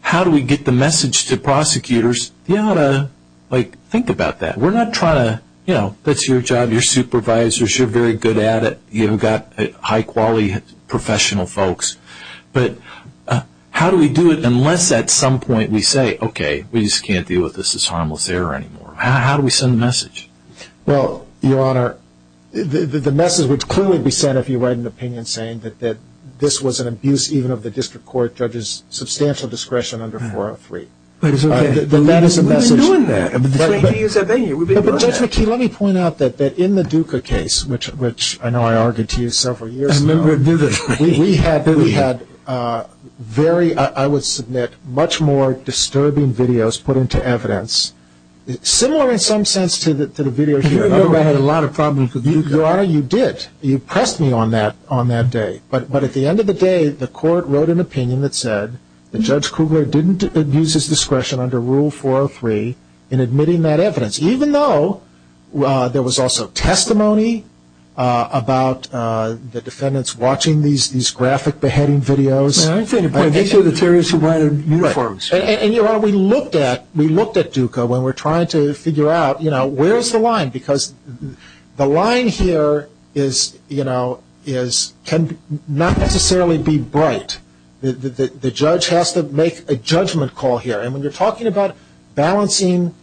How do we get the message to prosecutors? Think about that. We're not trying to, you know, that's your job. You're supervisors. You're very good at it. You've got high-quality professional folks. But how do we do it unless at some point we say, okay, we just can't deal with this as harmless error anymore. How do we send the message? Well, Your Honor, the message would clearly be sent if you write an opinion saying that this was an abuse, even of the district court judge's substantial discretion under 403. We've been doing that. We've been doing that. But Judge McKee, let me point out that in the Duca case, which I know I argued to you several years ago, we had very, I would submit, much more disturbing videos put into evidence, similar in some sense to the video here. I had a lot of problems with Duca. Your Honor, you did. You pressed me on that on that day. But at the end of the day, the court wrote an opinion that said the judge Kugler didn't abuse his discretion under Rule 403 in admitting that evidence, even though there was also testimony about the defendants watching these graphic beheading videos. These are the terrorists who ride in uniforms. Right. And, Your Honor, we looked at Duca when we were trying to figure out, you know, where's the line? Because the line here is, you know, can not necessarily be bright. The judge has to make a judgment call here. And when you're talking about balancing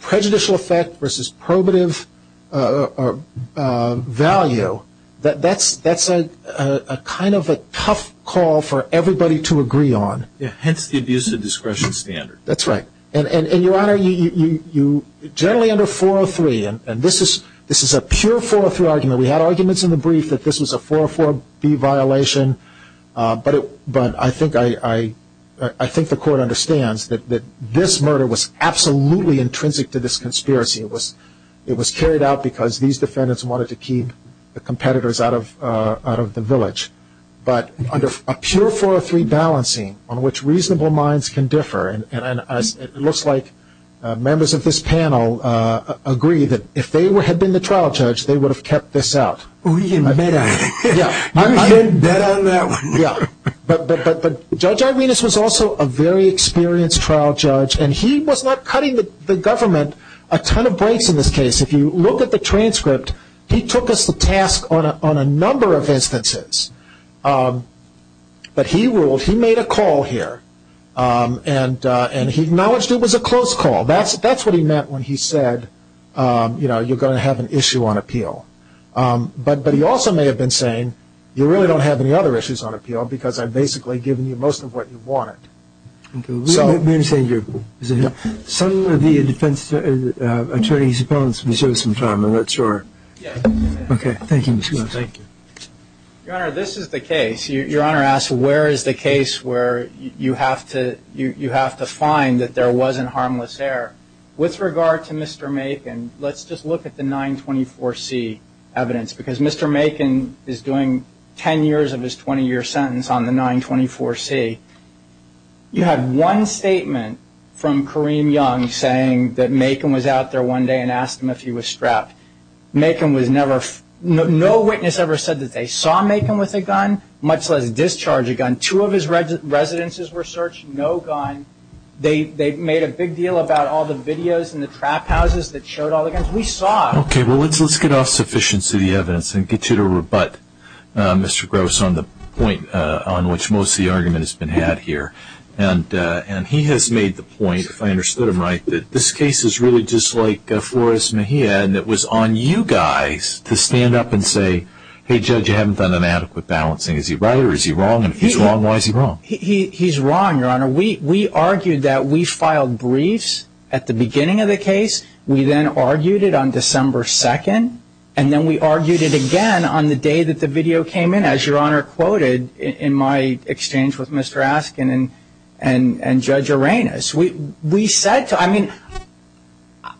prejudicial effect versus probative value, that's a kind of a tough call for everybody to agree on. Hence the abuse of discretion standard. That's right. And, Your Honor, generally under 403, and this is a pure 403 argument. We had arguments in the brief that this was a 404B violation. But I think the court understands that this murder was absolutely intrinsic to this conspiracy. It was carried out because these defendants wanted to keep the competitors out of the village. But under a pure 403 balancing on which reasonable minds can differ, and it looks like members of this panel agree that if they had been the trial judge, they would have kept this out. We can bet on it. Yeah. I'm in. You can bet on that one. Yeah. But Judge Irenas was also a very experienced trial judge, and he was not cutting the government a ton of breaks in this case. If you look at the transcript, he took us to task on a number of instances. But he ruled, he made a call here, and he acknowledged it was a close call. That's what he meant when he said, you know, you're going to have an issue on appeal. But he also may have been saying, you really don't have any other issues on appeal because I've basically given you most of what you wanted. We understand you. Some of the defense attorneys' opponents deserve some time. I'm not sure. Yeah. Okay. Thank you. Thank you. Your Honor, this is the case. Your Honor asks, where is the case where you have to find that there wasn't harmless error? With regard to Mr. Macon, let's just look at the 924C evidence, because Mr. Macon is doing ten years of his 20-year sentence on the 924C. You had one statement from Kareem Young saying that Macon was out there one day and asked him if he was strapped. No witness ever said that they saw Macon with a gun, much less discharge a gun. Two of his residences were searched. No gun. They made a big deal about all the videos and the trap houses that showed all the guns. We saw. Okay. Well, let's get off sufficiency of the evidence and get you to rebut Mr. Gross on the point on which most of the argument has been had here. And he has made the point, if I understood him right, that this case is really just like Flores Mejia, and it was on you guys to stand up and say, hey, Judge, you haven't done an adequate balancing. Is he right or is he wrong? And if he's wrong, why is he wrong? He's wrong, Your Honor. We argued that we filed briefs at the beginning of the case. We then argued it on December 2nd, and then we argued it again on the day that the video came in, as Your Honor quoted, in my exchange with Mr. Askin and Judge Arenas. We said to him,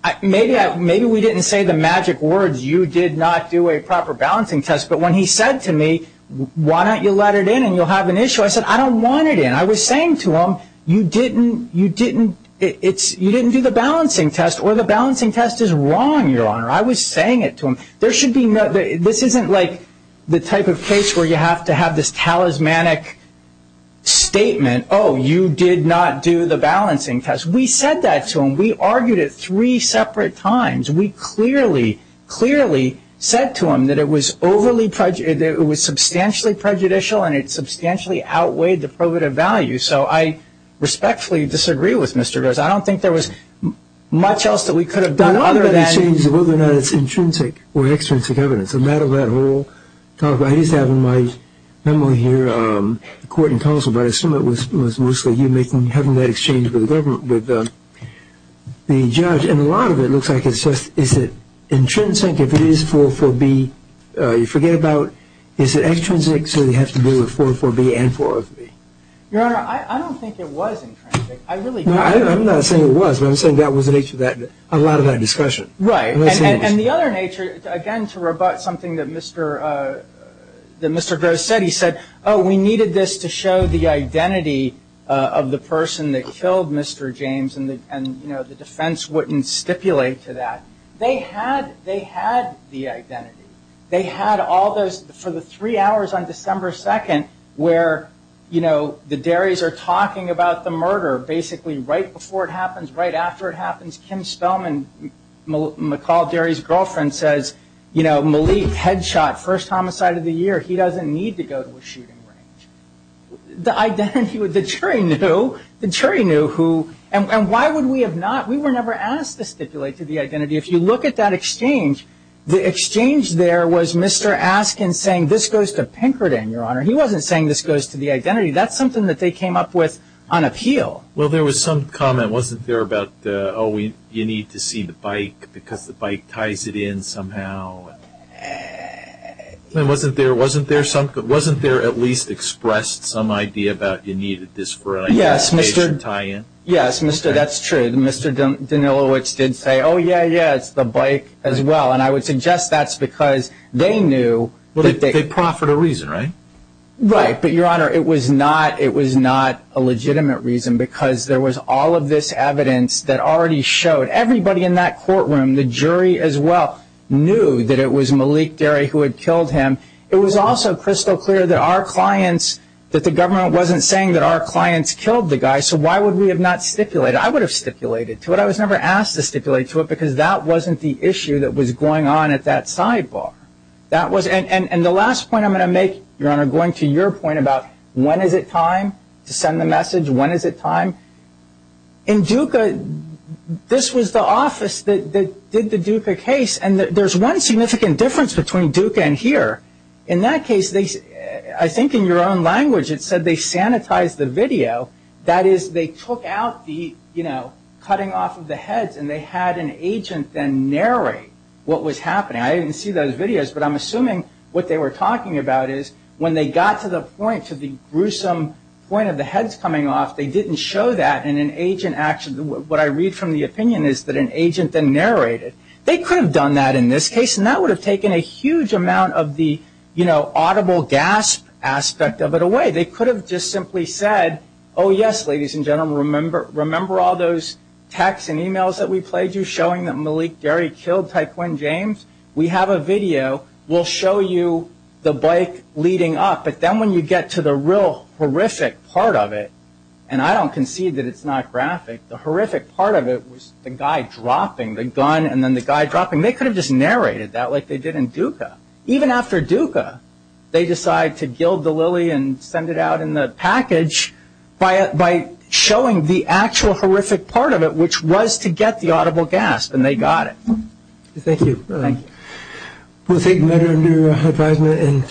I mean, maybe we didn't say the magic words, you did not do a proper balancing test, but when he said to me, why don't you let it in and you'll have an issue, I said, I don't want it in. I was saying to him, you didn't do the balancing test, or the balancing test is wrong, Your Honor. I was saying it to him. This isn't like the type of case where you have to have this talismanic statement, oh, you did not do the balancing test. We said that to him. We argued it three separate times. We clearly, clearly said to him that it was overly prejudicial, that it was substantially prejudicial and it substantially outweighed the probative value. So I respectfully disagree with Mr. Goers. I don't think there was much else that we could have done other than that. The only thing that changed is whether or not it's intrinsic or extrinsic evidence. It's a matter of that whole talk. I used to have in my memory here a court in Tulsa, but I assume it was mostly you having that exchange with the government, with the judge. And a lot of it looks like it's just, is it intrinsic if it is 404B, you forget about, is it extrinsic so you have to deal with 404B and 404B? Your Honor, I don't think it was intrinsic. I really don't. I'm not saying it was, but I'm saying that was the nature of a lot of that discussion. Right. And the other nature, again, to rebut something that Mr. Goers said, he said, oh, we needed this to show the identity of the person that killed Mr. James and, you know, the defense wouldn't stipulate to that. They had the identity. They had all those, for the three hours on December 2nd where, you know, the Darries are talking about the murder basically right before it happens, right after it happens, Kim Spellman, McCall Darries' girlfriend, says, you know, Malik headshot, first homicide of the year, he doesn't need to go to a shooting range. The identity, the jury knew, the jury knew who, and why would we have not, we were never asked to stipulate to the identity. If you look at that exchange, the exchange there was Mr. Askin saying, this goes to Pinkerton, Your Honor. He wasn't saying this goes to the identity. That's something that they came up with on appeal. Well, there was some comment, wasn't there, about, oh, you need to see the bike because the bike ties it in somehow. Wasn't there at least expressed some idea about you needed this for an identification tie-in? Yes, Mr. That's true. Mr. Danilowitz did say, oh, yeah, yeah, it's the bike as well. And I would suggest that's because they knew. They proffered a reason, right? Right. But, Your Honor, it was not a legitimate reason because there was all of this evidence that already showed everybody in that courtroom, the jury as well, knew that it was Malik Derry who had killed him. It was also crystal clear that our clients, that the government wasn't saying that our clients killed the guy, so why would we have not stipulated? I would have stipulated to it. I was never asked to stipulate to it because that wasn't the issue that was going on at that sidebar. And the last point I'm going to make, Your Honor, going to your point about when is it time to send the message, when is it time, in DUCA, this was the office that did the DUCA case and there's one significant difference between DUCA and here. In that case, I think in your own language it said they sanitized the video. That is, they took out the, you know, cutting off of the heads and they had an agent then narrate what was happening. I didn't see those videos, but I'm assuming what they were talking about is when they got to the point, to the gruesome point of the heads coming off, they didn't show that and an agent actually, what I read from the opinion is that an agent then narrated. They could have done that in this case and that would have taken a huge amount of the, you know, audible gasp aspect of it away. They could have just simply said, oh, yes, ladies and gentlemen, remember all those texts and emails that we played you showing that Malik Derry killed Ty Quinn James? We have a video, we'll show you the bike leading up, but then when you get to the real horrific part of it, and I don't concede that it's not graphic, the horrific part of it was the guy dropping the gun and then the guy dropping, they could have just narrated that like they did in DUCA. Even after DUCA, they decide to gild the lily and send it out in the package by showing the actual horrific part of it, which was to get the audible gasp and they got it. Thank you. Thank you.